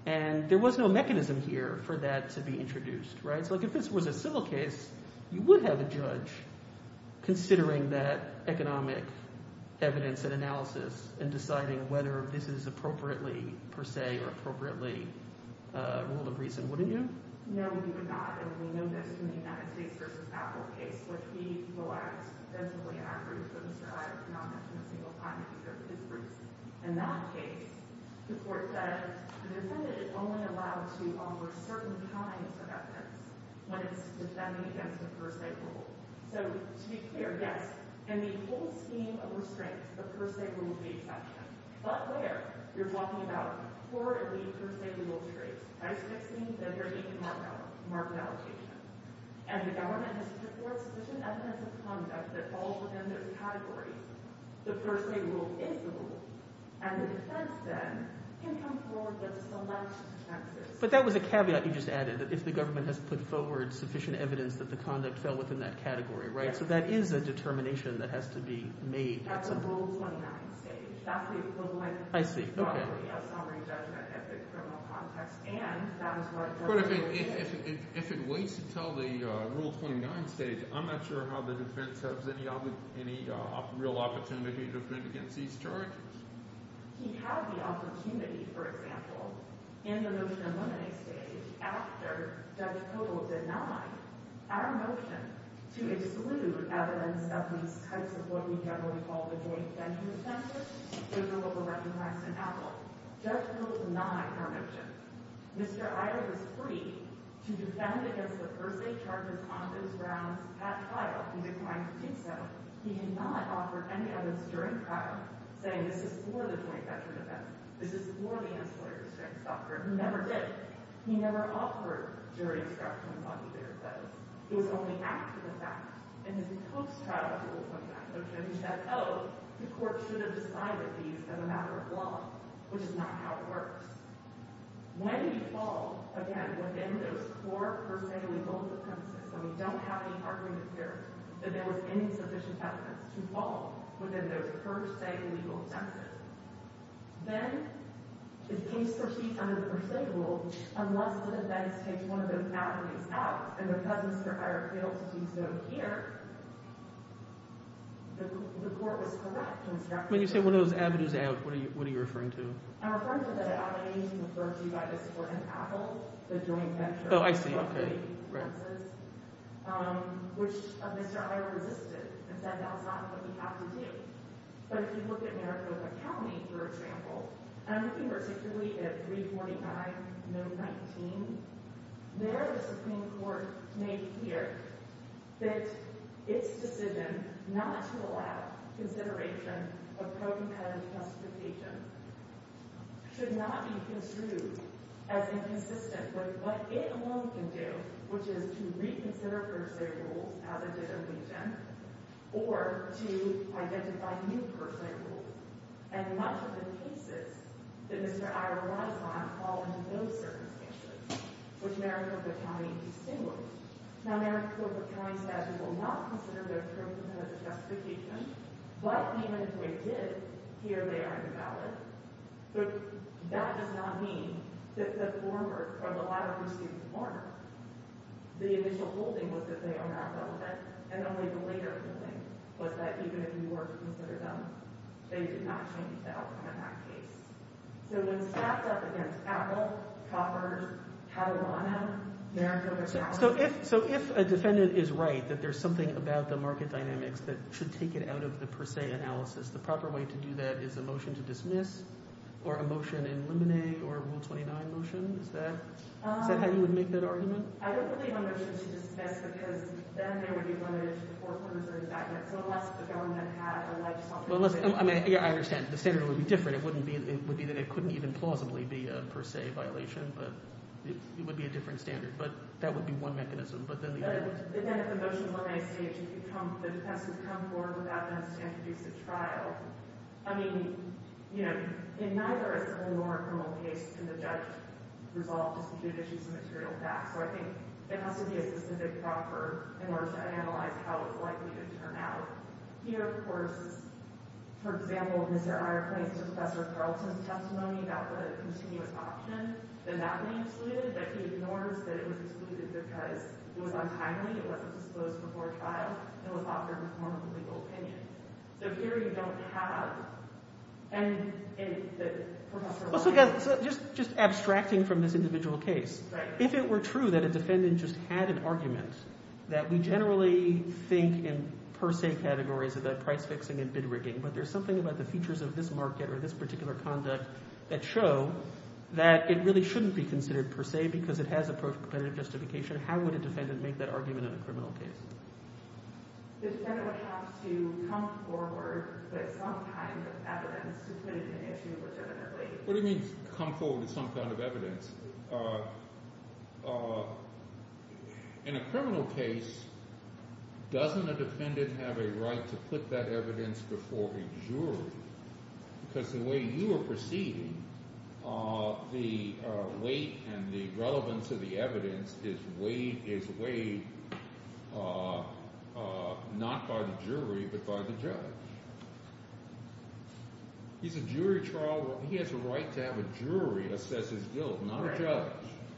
And there was no mechanism here for that to be introduced, right? So if this was a civil case, you would have a judge considering that economic evidence and analysis and deciding whether this is appropriately per se or appropriately a rule of reason, wouldn't you? No, you would not. And we know this from the United States v. Apple case, which we will add extensively afterwards, but Mr. Hyatt did not mention a single time in his briefs. In that case, the court said the defendant is only allowed to offer certain kinds of evidence when it's defending against a per se rule. So to be clear, yes, in the whole scheme of restraints, the per se rule is the exception. But where? You're talking about core elite per se rule traits, price fixing, leverage, and market allocation. And the government has put forward sufficient evidence of conduct that falls within those categories. The per se rule is the rule, and the defense then can come forward with select defenses. But that was a caveat you just added, that if the government has put forward sufficient evidence that the conduct fell within that category, right? So that is a determination that has to be made at some point. At the Rule 29 stage. That's the equivalent. I see. Okay. Of summary judgment at the criminal context. And that is what – But if it waits until the Rule 29 stage, I'm not sure how the defense has any real opportunity to defend against these charges. He had the opportunity, for example, in the motion eliminating stage, after Judge Kogel denied our motion to exclude evidence of these types of what we generally call the joint-venture offenses. Those are what were recognized in Apple. Judge Kogel denied our motion. Mr. Iyer was free to defend against the per se charges on his grounds at trial. He declined to do so. He did not offer any evidence during trial saying this is for the joint-venture defense. This is for the ancillary restraints doctrine. He never did. He never offered jury instructions on either of those. It was only after the fact. In his post-trial Rule 29 motion, he said, oh, the court should have decided these as a matter of law, which is not how it works. When you fall, again, within those four per se legal defenses, and we don't have any argument here that there was any sufficient evidence to fall within those per se legal defenses, then the case proceeds under the per se rule. Unless the defense takes one of those avenues out, and because Mr. Iyer failed to do so here, the court was correct in its definition. When you say one of those avenues out, what are you referring to? I'm referring to the avenues referred to by this court in Apple, the joint-venture. Oh, I see. Right. Which is to reconsider per se rules as it did in Wheaton or to identify new per se rules. And much of the cases that Mr. Iyer relies on fall into those circumstances, which Merrick-Clifford County distinguished. Now, Merrick-Clifford County says it will not consider their terms of justification, but even if they did, here they are invalid. But that does not mean that the former, from the latter proceeding to the former, the initial holding was that they are not relevant, and only the later holding was that even if you were to consider them, they did not change the outcome in that case. So when stacked up against Apple, Coffers, Catalana, Merrick-Clifford County— So you're saying that there's something about the market dynamics that should take it out of the per se analysis. The proper way to do that is a motion to dismiss or a motion in limine or a Rule 29 motion. Is that how you would make that argument? I don't believe a motion to dismiss because then there would be limited to the foreclosures or indictments, unless the felon had had a life sentence. I understand. The standard would be different. It would be that it couldn't even plausibly be a per se violation, but it would be a different standard. But that would be one mechanism. But then if the motion is on a stage that the defense would come forward without evidence to introduce a trial— I mean, you know, in neither is it a normal criminal case to the judge to resolve disputed issues of material facts. So I think it has to be a specific proffer in order to analyze how it's likely to turn out. Here, of course, for example, Mr. Ira claims to Professor Carlton's testimony about the continuous option that that may be excluded, that he ignores that it was excluded because it was untimely. It wasn't disclosed before trial. It was offered in the form of a legal opinion. So here you don't have—and in the— Just abstracting from this individual case, if it were true that a defendant just had an argument that we generally think in per se categories about price fixing and bid rigging, but there's something about the features of this market or this particular conduct that show that it really shouldn't be considered per se because it has a pro-competitive justification, how would a defendant make that argument in a criminal case? The defendant would have to come forward with some kind of evidence to put it in issue legitimately. What do you mean come forward with some kind of evidence? In a criminal case, doesn't a defendant have a right to put that evidence before a jury? Because the way you are proceeding, the weight and the relevance of the evidence is weighed not by the jury but by the judge. He's a jury trial. He has a right to have a jury assess his guilt, not a judge.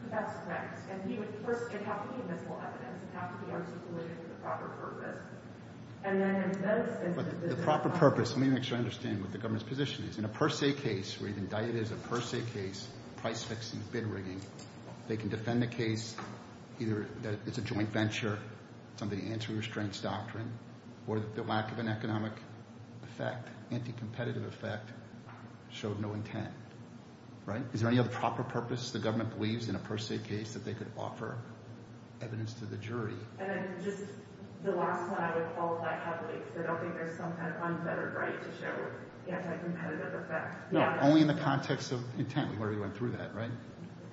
That's correct. And he would first—it would have to be a visible evidence. It would have to be articulated for the proper purpose. But the proper purpose—let me make sure I understand what the government's position is. In a per se case where you've indicted as a per se case price fixing and bid rigging, they can defend the case either that it's a joint venture, somebody answering restraints doctrine, or that the lack of an economic effect, anti-competitive effect, showed no intent. Is there any other proper purpose the government believes in a per se case that they could offer evidence to the jury? And then just the last one, I would qualify happily. I don't think there's some kind of unfettered right to show anti-competitive effect. No, only in the context of intent. We already went through that, right?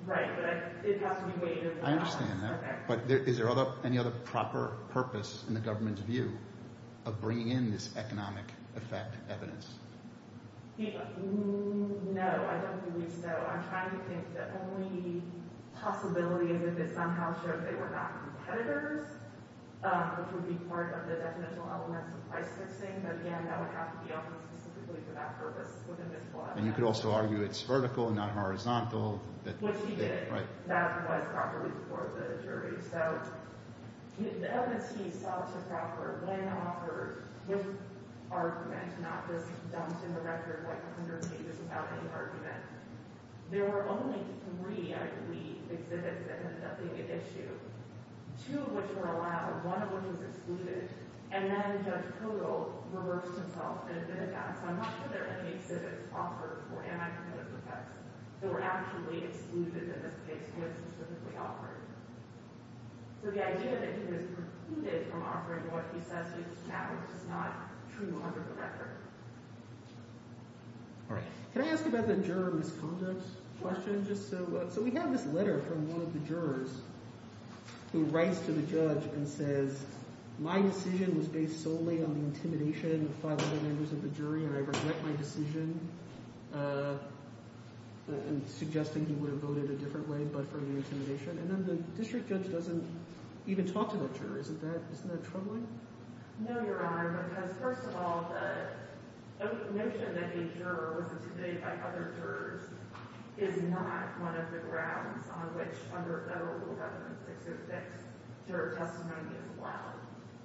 Right, but it has to be weighted. I understand that. Okay. But is there any other proper purpose in the government's view of bringing in this economic effect evidence? No, I don't believe so. I'm trying to think the only possibility is if it somehow shows they were not competitors, which would be part of the definitional elements of price fixing. But, again, that would have to be offered specifically for that purpose within this law. And you could also argue it's vertical and not horizontal. Which he did. Right. That was properly before the jury. So the evidence he sought to proffer when offered with argument, not just dumped in the record like 100 pages without any argument, there were only three, I believe, exhibits that ended up being at issue. Two of which were allowed, one of which was excluded, and then Judge Kodal reversed himself and admitted that. So I'm not sure there are any exhibits offered for anti-competitive effects that were actually excluded in this case, but they were specifically offered. So the idea that he was precluded from offering what he says is valid is not true under the record. All right. Can I ask about the juror misconduct question? So we have this letter from one of the jurors who writes to the judge and says, my decision was based solely on the intimidation of five other members of the jury, and I regret my decision, suggesting he would have voted a different way. And then the district judge doesn't even talk to that juror. Isn't that troubling? No, Your Honor, because, first of all, the notion that a juror was intimidated by other jurors is not one of the grounds on which under Federal Rule 11606 juror testimony is allowed.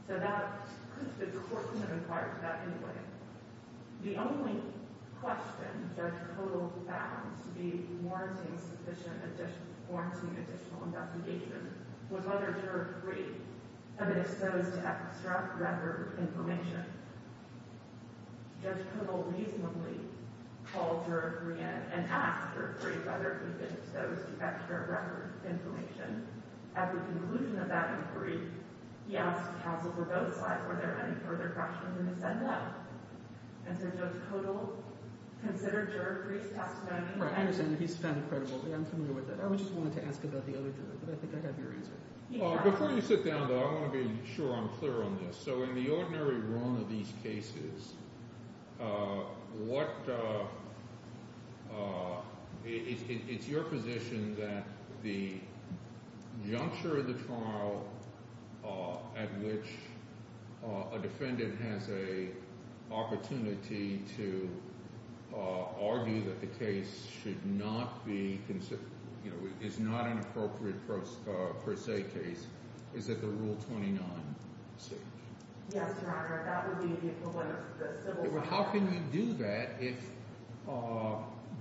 So that could have been required to that ending. The only question Judge Kudl found to be warranting additional investigation was whether juror 3 had been exposed to extra record information. Judge Kudl reasonably called juror 3 in and asked juror 3 whether he'd been exposed to extra record information. At the conclusion of that inquiry, he asked counsels on both sides, were there any further questions, and he said no. And so Judge Kudl considered juror 3's testimony. He's found credible. I'm familiar with it. I just wanted to ask about the other juror, but I think I have your answer. Before you sit down, though, I want to be sure I'm clear on this. So in the ordinary realm of these cases, what – it's your position that the juncture of the trial at which a defendant has a opportunity to argue that the case should not be – is not an appropriate per se case is at the Rule 29 stage? Yes, Your Honor. That would be the equivalent of the civil – How can you do that if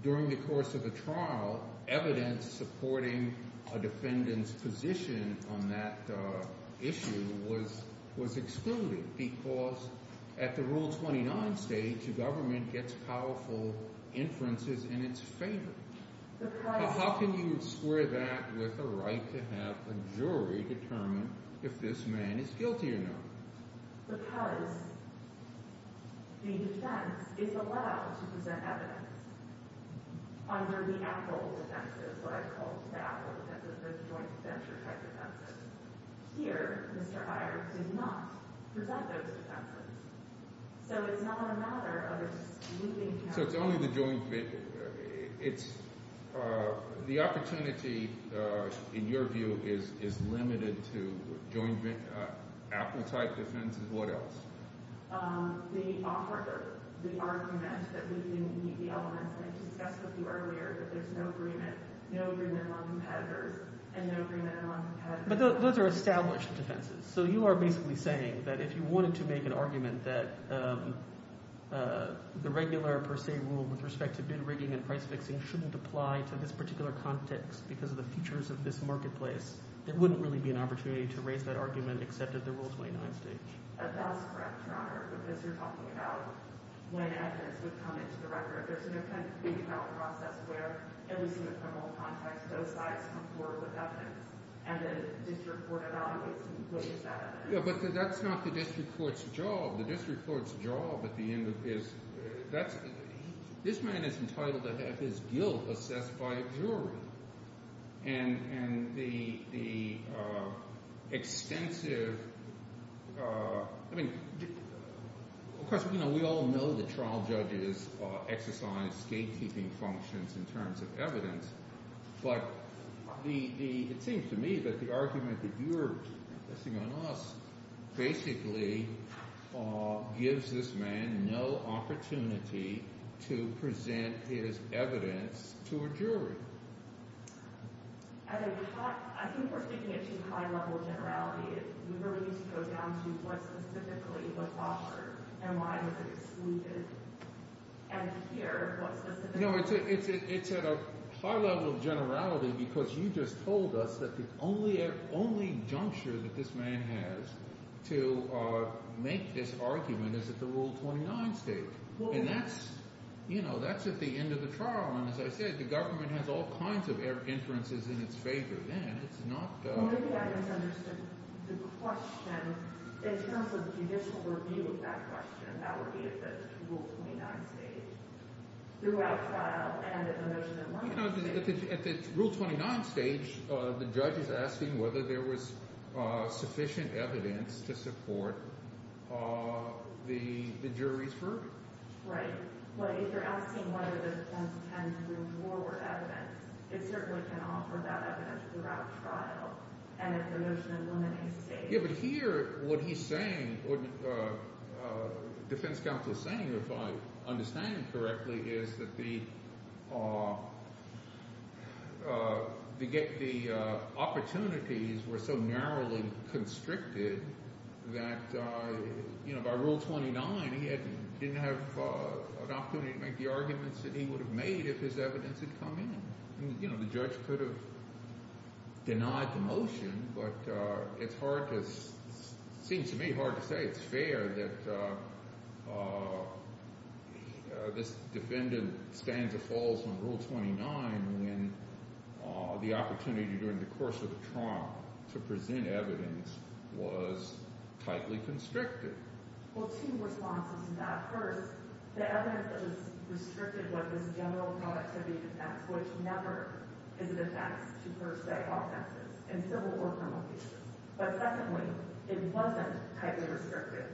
during the course of a trial, evidence supporting a defendant's position on that issue was excluded? Because at the Rule 29 stage, a government gets powerful inferences in its favor. How can you square that with a right to have a jury determine if this man is guilty or not? Because the defense is allowed to present evidence under the Apple defense. That's what I call the Apple defense. It's a joint venture type defense. Here, Mr. Heyer did not present those defenses. So it's not a matter of excluding – So it's only the joint – it's – the opportunity, in your view, is limited to joint – Apple-type defenses? What else? The offer, the argument that we can meet the elements that I discussed with you earlier, that there's no agreement, no agreement among competitors, and no agreement among competitors. But those are established defenses. So you are basically saying that if you wanted to make an argument that the regular per se rule with respect to bid rigging and price fixing shouldn't apply to this particular context because of the features of this marketplace, there wouldn't really be an opportunity to raise that argument except at the Rule 29 stage. That's correct, Your Honor, because you're talking about when evidence would come into the record. There's no kind of detailed process where, at least in the criminal context, those sides come forward with evidence, and then the district court evaluates and wishes that evidence. But that's not the district court's job. The district court's job at the end of this – this man is entitled to have his guilt assessed by a jury, and the extensive – I mean, of course, we all know that trial judges exercise gatekeeping functions in terms of evidence. But the – it seems to me that the argument that you're basing on us basically gives this man no opportunity to present his evidence to a jury. It's at a high level of generality because you just told us that the only juncture that this man has to make this argument is at the Rule 29 stage. And that's at the end of the trial, and as I said, the government has all kinds of inferences in its favor then. Maybe I misunderstood the question. In terms of judicial review of that question, that would be at the Rule 29 stage. Throughout trial and at the motion in one case. At the Rule 29 stage, the judge is asking whether there was sufficient evidence to support the jury's verdict. If you're asking whether the defense can move forward evidence, it certainly can offer that evidence throughout trial and at the motion in one case stage. Yeah, but here what he's saying or the defense counsel is saying, if I understand him correctly, is that the – the opportunities were so narrowly constricted that by Rule 29 he didn't have an opportunity to make the arguments that he would have made if his evidence had come in. You know, the judge could have denied the motion, but it's hard to – it seems to me hard to say it's fair that this defendant stands or falls on Rule 29 when the opportunity during the course of the trial to present evidence was tightly constricted. Well, two responses to that. First, the evidence that was restricted was this general productivity effect, which never is an effect to first-beg offenses in civil or criminal cases. But secondly, it wasn't tightly restricted.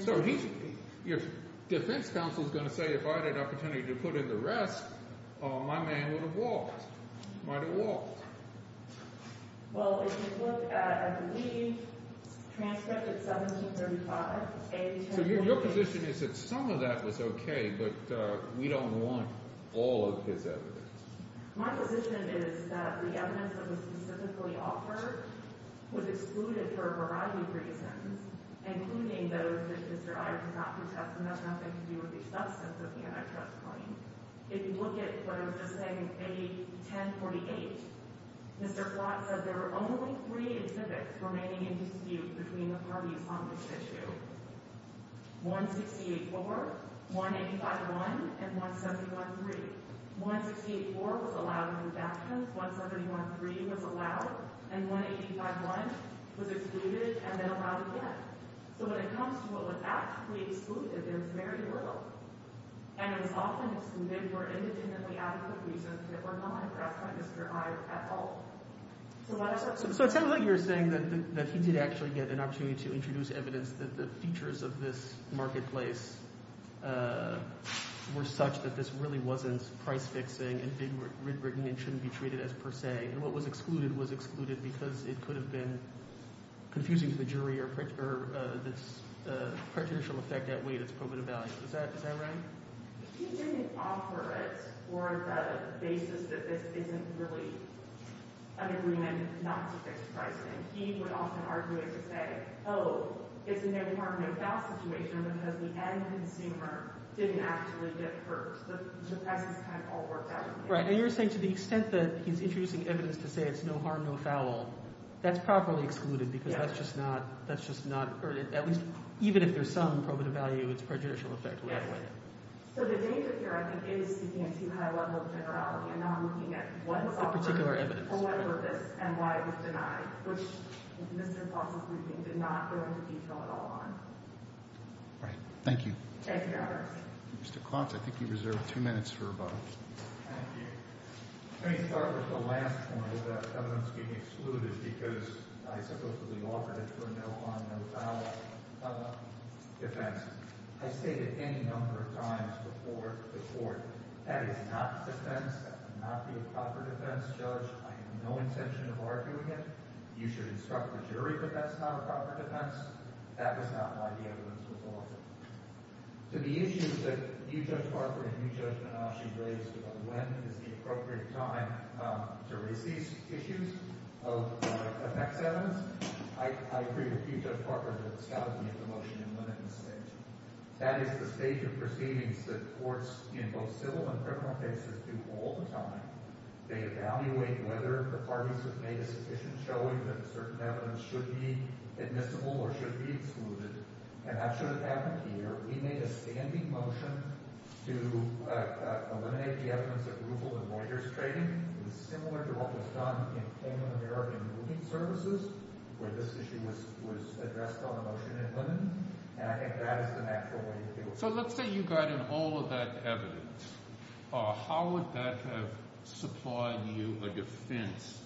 So he – your defense counsel is going to say if I had an opportunity to put in the rest, my man would have walked. Might have walked. Well, if you look at, I believe, transcript at 1735… So your position is that some of that was okay, but we don't want all of his evidence. My position is that the evidence that was specifically offered was excluded for a variety of reasons, including those that Mr. Iyer did not contest, and that's nothing to do with the substance of the antitrust claim. If you look at what I was just saying, A1048, Mr. Flott says there are only three exhibits remaining in dispute between the parties on this issue. 168-4, 185-1, and 171-3. 168-4 was allowed on the background, 171-3 was allowed, and 185-1 was excluded and then allowed again. So when it comes to what was actually excluded, it was very little. And it was often excluded for indignantly adequate reasons that were not impressed by Mr. Iyer at all. So it sounded like you were saying that he did actually get an opportunity to introduce evidence that the features of this marketplace were such that this really wasn't price-fixing and being rig-rigging and shouldn't be treated as per se, and what was excluded was excluded because it could have been confusing to the jury or this partitional effect outweighed its probative value. Is that right? He didn't offer it for the basis that this isn't really an agreement not to fix pricing. He would often argue it to say, oh, it's a no-harm, no-foul situation because the end consumer didn't actually get hurt. The process kind of all worked out in the end. Right, and you're saying to the extent that he's introducing evidence to say it's no-harm, no-foul, that's properly excluded because that's just not – or at least even if there's some probative value, it's prejudicial effectively. So the danger here, I think, is seeking a too high level of generality and not looking at what was offered or what purpose and why it was denied, which Mr. Klotz's briefing did not go into detail at all on. Right. Thank you. Thank you, Your Honor. Mr. Klotz, I think you reserved two minutes for a vote. Thank you. Let me start with the last point about evidence being excluded because I supposedly offered it for a no-harm, no-foul defense. I stated any number of times before the court that is not defense, that would not be a proper defense, Judge. I have no intention of arguing it. You should instruct the jury that that's not a proper defense. That was not why the evidence was offered. To the issues that you, Judge Barker, and you, Judge Menache, raised about when is the appropriate time to raise these issues of effects evidence, I agree with you, Judge Barker, that it's time to make a motion and limit mistakes. That is the stage of proceedings that courts in both civil and criminal cases do all the time. They evaluate whether the parties have made a sufficient showing that certain evidence should be admissible or should be excluded, and that should have happened here. We made a standing motion to eliminate the evidence of rufle in Reuters trading. It was similar to what was done in Cayman American Moving Services where this issue was addressed on a motion and limit, and I think that is the natural way to do it. So let's say you got in all of that evidence. How would that have supplied you a defense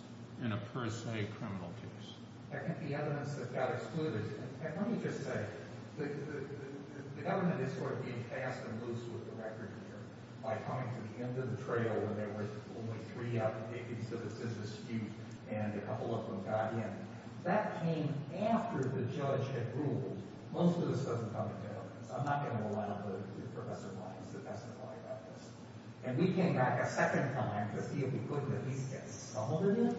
in a per se criminal case? I think the evidence that got excluded – and let me just say, the government is sort of being fast and loose with the record here by coming to the end of the trail where there were only three out-of-the-dickens of a scissor skew, and a couple of them got in. That came after the judge had ruled. Most of this doesn't come into evidence. I'm not going to allow Professor Blank to specify about this. And we came back a second time to see if we couldn't at least get some of it in,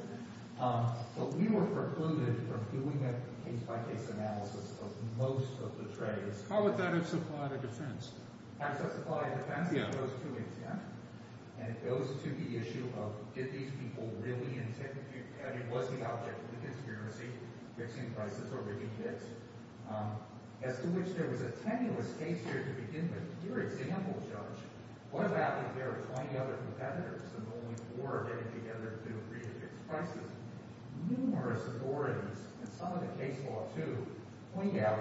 but we were precluded from doing a case-by-case analysis of most of the trades. How would that have supplied a defense? How does that supply a defense? It goes to intent, and it goes to the issue of did these people really intend to – I mean was the object of the conspiracy fixing prices or really did? As to which there was a tenuous case here to begin with. Your example, Judge, what about if there are 20 other competitors and only four are getting together to agree to fix prices? Numerous authorities, and some of the case law too, point out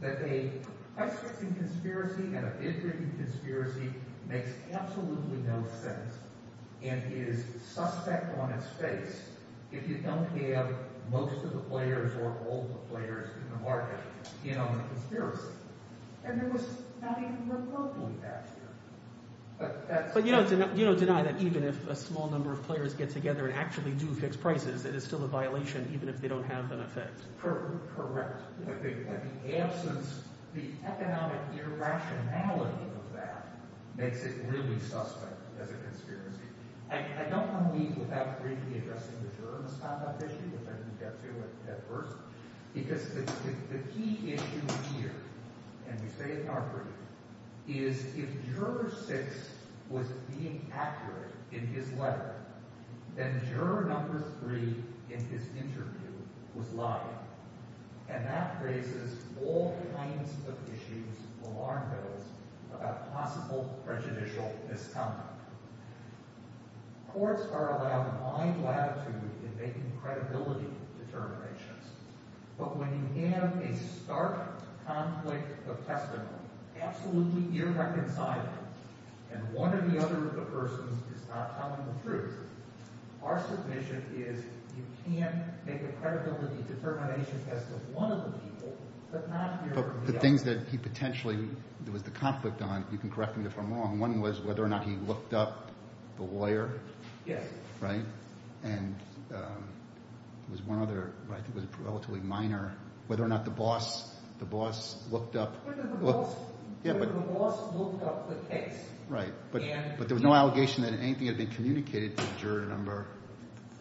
that a price-fixing conspiracy and a bid-rigging conspiracy makes absolutely no sense and is suspect on its face if you don't have most of the players or all the players in the market in on the conspiracy. And there was not even remotely that here. But you don't deny that even if a small number of players get together and actually do fix prices, it is still a violation even if they don't have them affixed. Correct. The absence – the economic irrationality of that makes it really suspect as a conspiracy. I don't want to leave without briefly addressing the juror misconduct issue, which I didn't get to at first, because the key issue here – and we say it in our brief – is if juror six was being accurate in his letter, then juror number three in his interview was lying. And that raises all kinds of issues, alarm bells, about possible prejudicial misconduct. Courts are allowed wide latitude in making credibility determinations. But when you have a stark conflict of testimony, absolutely irreconcilable, and one or the other of the persons is not telling the truth, our submission is you can't make a credibility determination test of one of the people but not the other. But the things that he potentially – there was the conflict on – you can correct me if I'm wrong. One was whether or not he looked up the lawyer. Yes. Right? And there was one other – I think it was relatively minor – whether or not the boss looked up – Whether the boss looked up the case. Right. But there was no allegation that anything had been communicated to juror number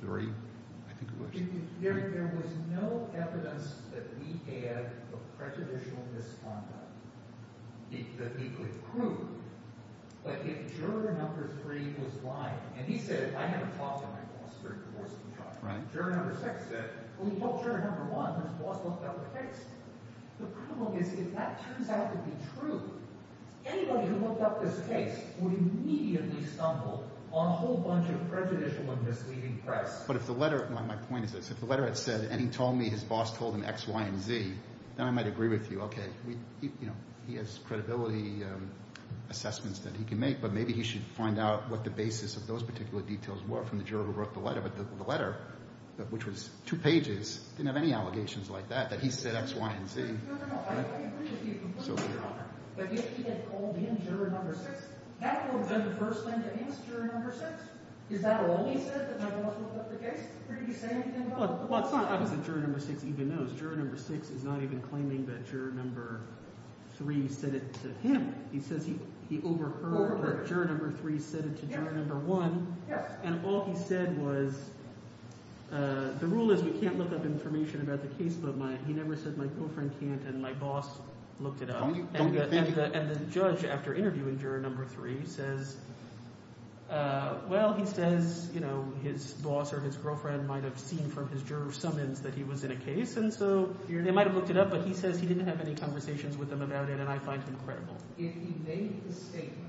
three, I think it was. There was no evidence that we had of prejudicial misconduct that he could prove. But if juror number three was lying – and he said, I had a talk with my boss during the divorce contract. Right. Juror number six said, well, he helped juror number one whose boss looked up the case. The problem is if that turns out to be true, anybody who looked up this case would immediately stumble on a whole bunch of prejudicial and misleading press. But if the letter – my point is this. If the letter had said, and he told me his boss told him X, Y, and Z, then I might agree with you. Okay. He has credibility assessments that he can make, but maybe he should find out what the basis of those particular details were from the juror who wrote the letter. But the letter, which was two pages, didn't have any allegations like that, that he said X, Y, and Z. No, no, no. I agree with you completely. So be it. But if he had called in juror number six, that would have been the first thing to ask juror number six. Is that all he said, that my boss looked up the case? Did he say anything about the boss? Well, it's not obvious that juror number six even knows. Juror number six is not even claiming that juror number three said it to him. He says he overheard that juror number three said it to juror number one. And all he said was the rule is we can't look up information about the case, but my – he never said my girlfriend can't and my boss looked it up. And the judge, after interviewing juror number three, says, well, he says his boss or his girlfriend might have seen from his juror summons that he was in a case. And so they might have looked it up, but he says he didn't have any conversations with them about it, and I find him credible. If he made the statement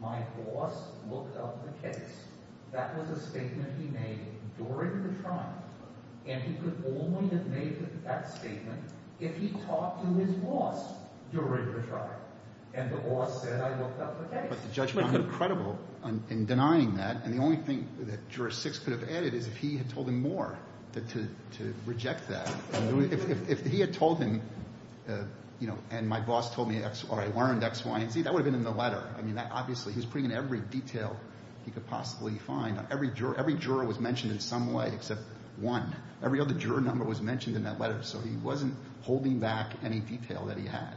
my boss looked up the case, that was a statement he made during the trial, and he could only have made that statement if he talked to his boss during the trial and the boss said I looked up the case. But the judge found him credible in denying that, and the only thing that juror six could have added is if he had told him more to reject that. If he had told him and my boss told me X or I learned X, Y and Z, that would have been in the letter. I mean, obviously he was putting in every detail he could possibly find. Every juror was mentioned in some way except one. Every other juror number was mentioned in that letter, so he wasn't holding back any detail that he had.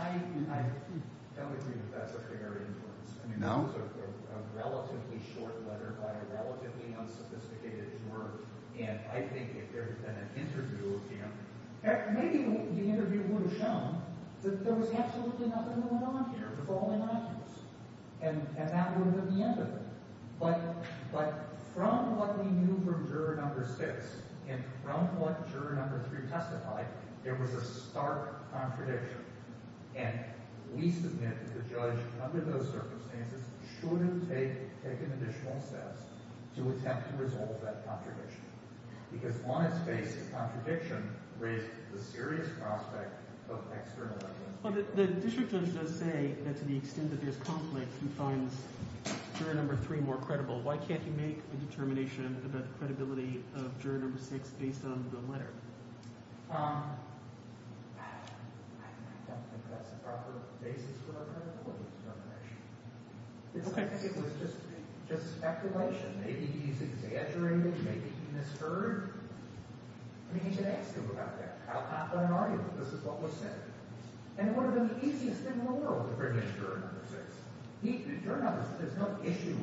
I don't agree that that's a fair inference. No? That was a relatively short letter by a relatively unsophisticated juror, and I think if there had been an interview with him, maybe the interview would have shown that there was absolutely nothing going on here. It was all innocuous, and that would have been the end of it. But from what we knew from juror number six and from what juror number three testified, there was a stark contradiction. And we submit that the judge, under those circumstances, should have taken additional steps to attempt to resolve that contradiction because on its face the contradiction raised the serious prospect of external evidence. Well, the district judge does say that to the extent that there's conflict, he finds juror number three more credible. Why can't he make a determination about the credibility of juror number six based on the letter? I don't think that's a proper basis for a credibility determination. Okay. I think it was just speculation. Maybe he's exaggerating. Maybe he misheard. I mean, he should ask him about that. I'll not run an argument. This is what was said. And it would have been the easiest thing in the world to bring in juror number six. There's no issue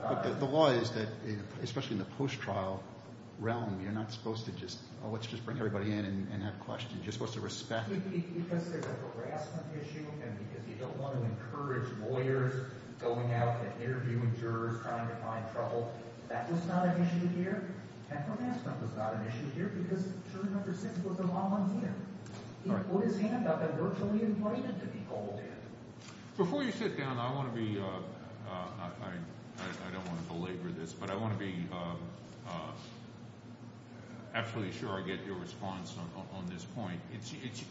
of – The law is that, especially in the post-trial realm, you're not supposed to just, oh, let's just bring everybody in and have questions. You're supposed to respect – Because there's a harassment issue and because you don't want to encourage lawyers going out and interviewing jurors trying to find trouble. That was not an issue here. And harassment was not an issue here because juror number six was a volunteer. He put his hand up and virtually invited to be called in. Before you sit down, I want to be – I don't want to belabor this, but I want to be absolutely sure I get your response on this point. It's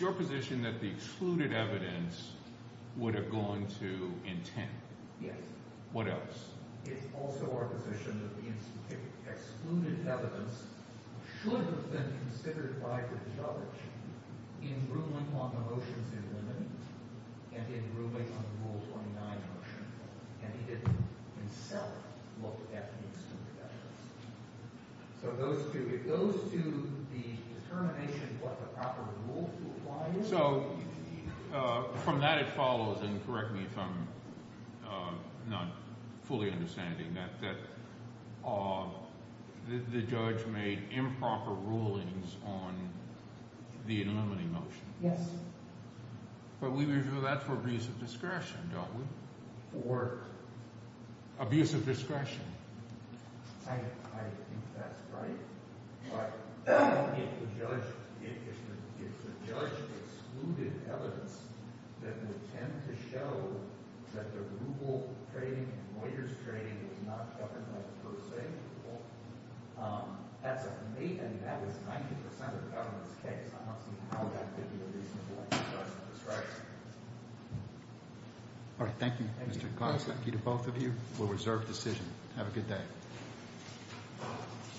your position that the excluded evidence would have gone to intent. Yes. What else? It's also our position that the excluded evidence should have been considered by the judge in ruling on the motions in limine and in ruling on the Rule 29 motion. And he didn't himself look at the excluded evidence. So it goes to the determination of what the proper rule to apply is. So from that it follows, and correct me if I'm not fully understanding, that the judge made improper rulings on the in limine motion. Yes. But we review that for abuse of discretion, don't we? For? Abuse of discretion. I think that's right. But if the judge – if the judge excluded evidence that would tend to show that the ruble trading and lawyers trading was not governed by the first say rule, that's a – and that was 90% of the government's case. I want to see how that could be a reasonable abuse of discretion. All right. Thank you, Mr. Goss. Thank you to both of you for a reserved decision. Have a good day.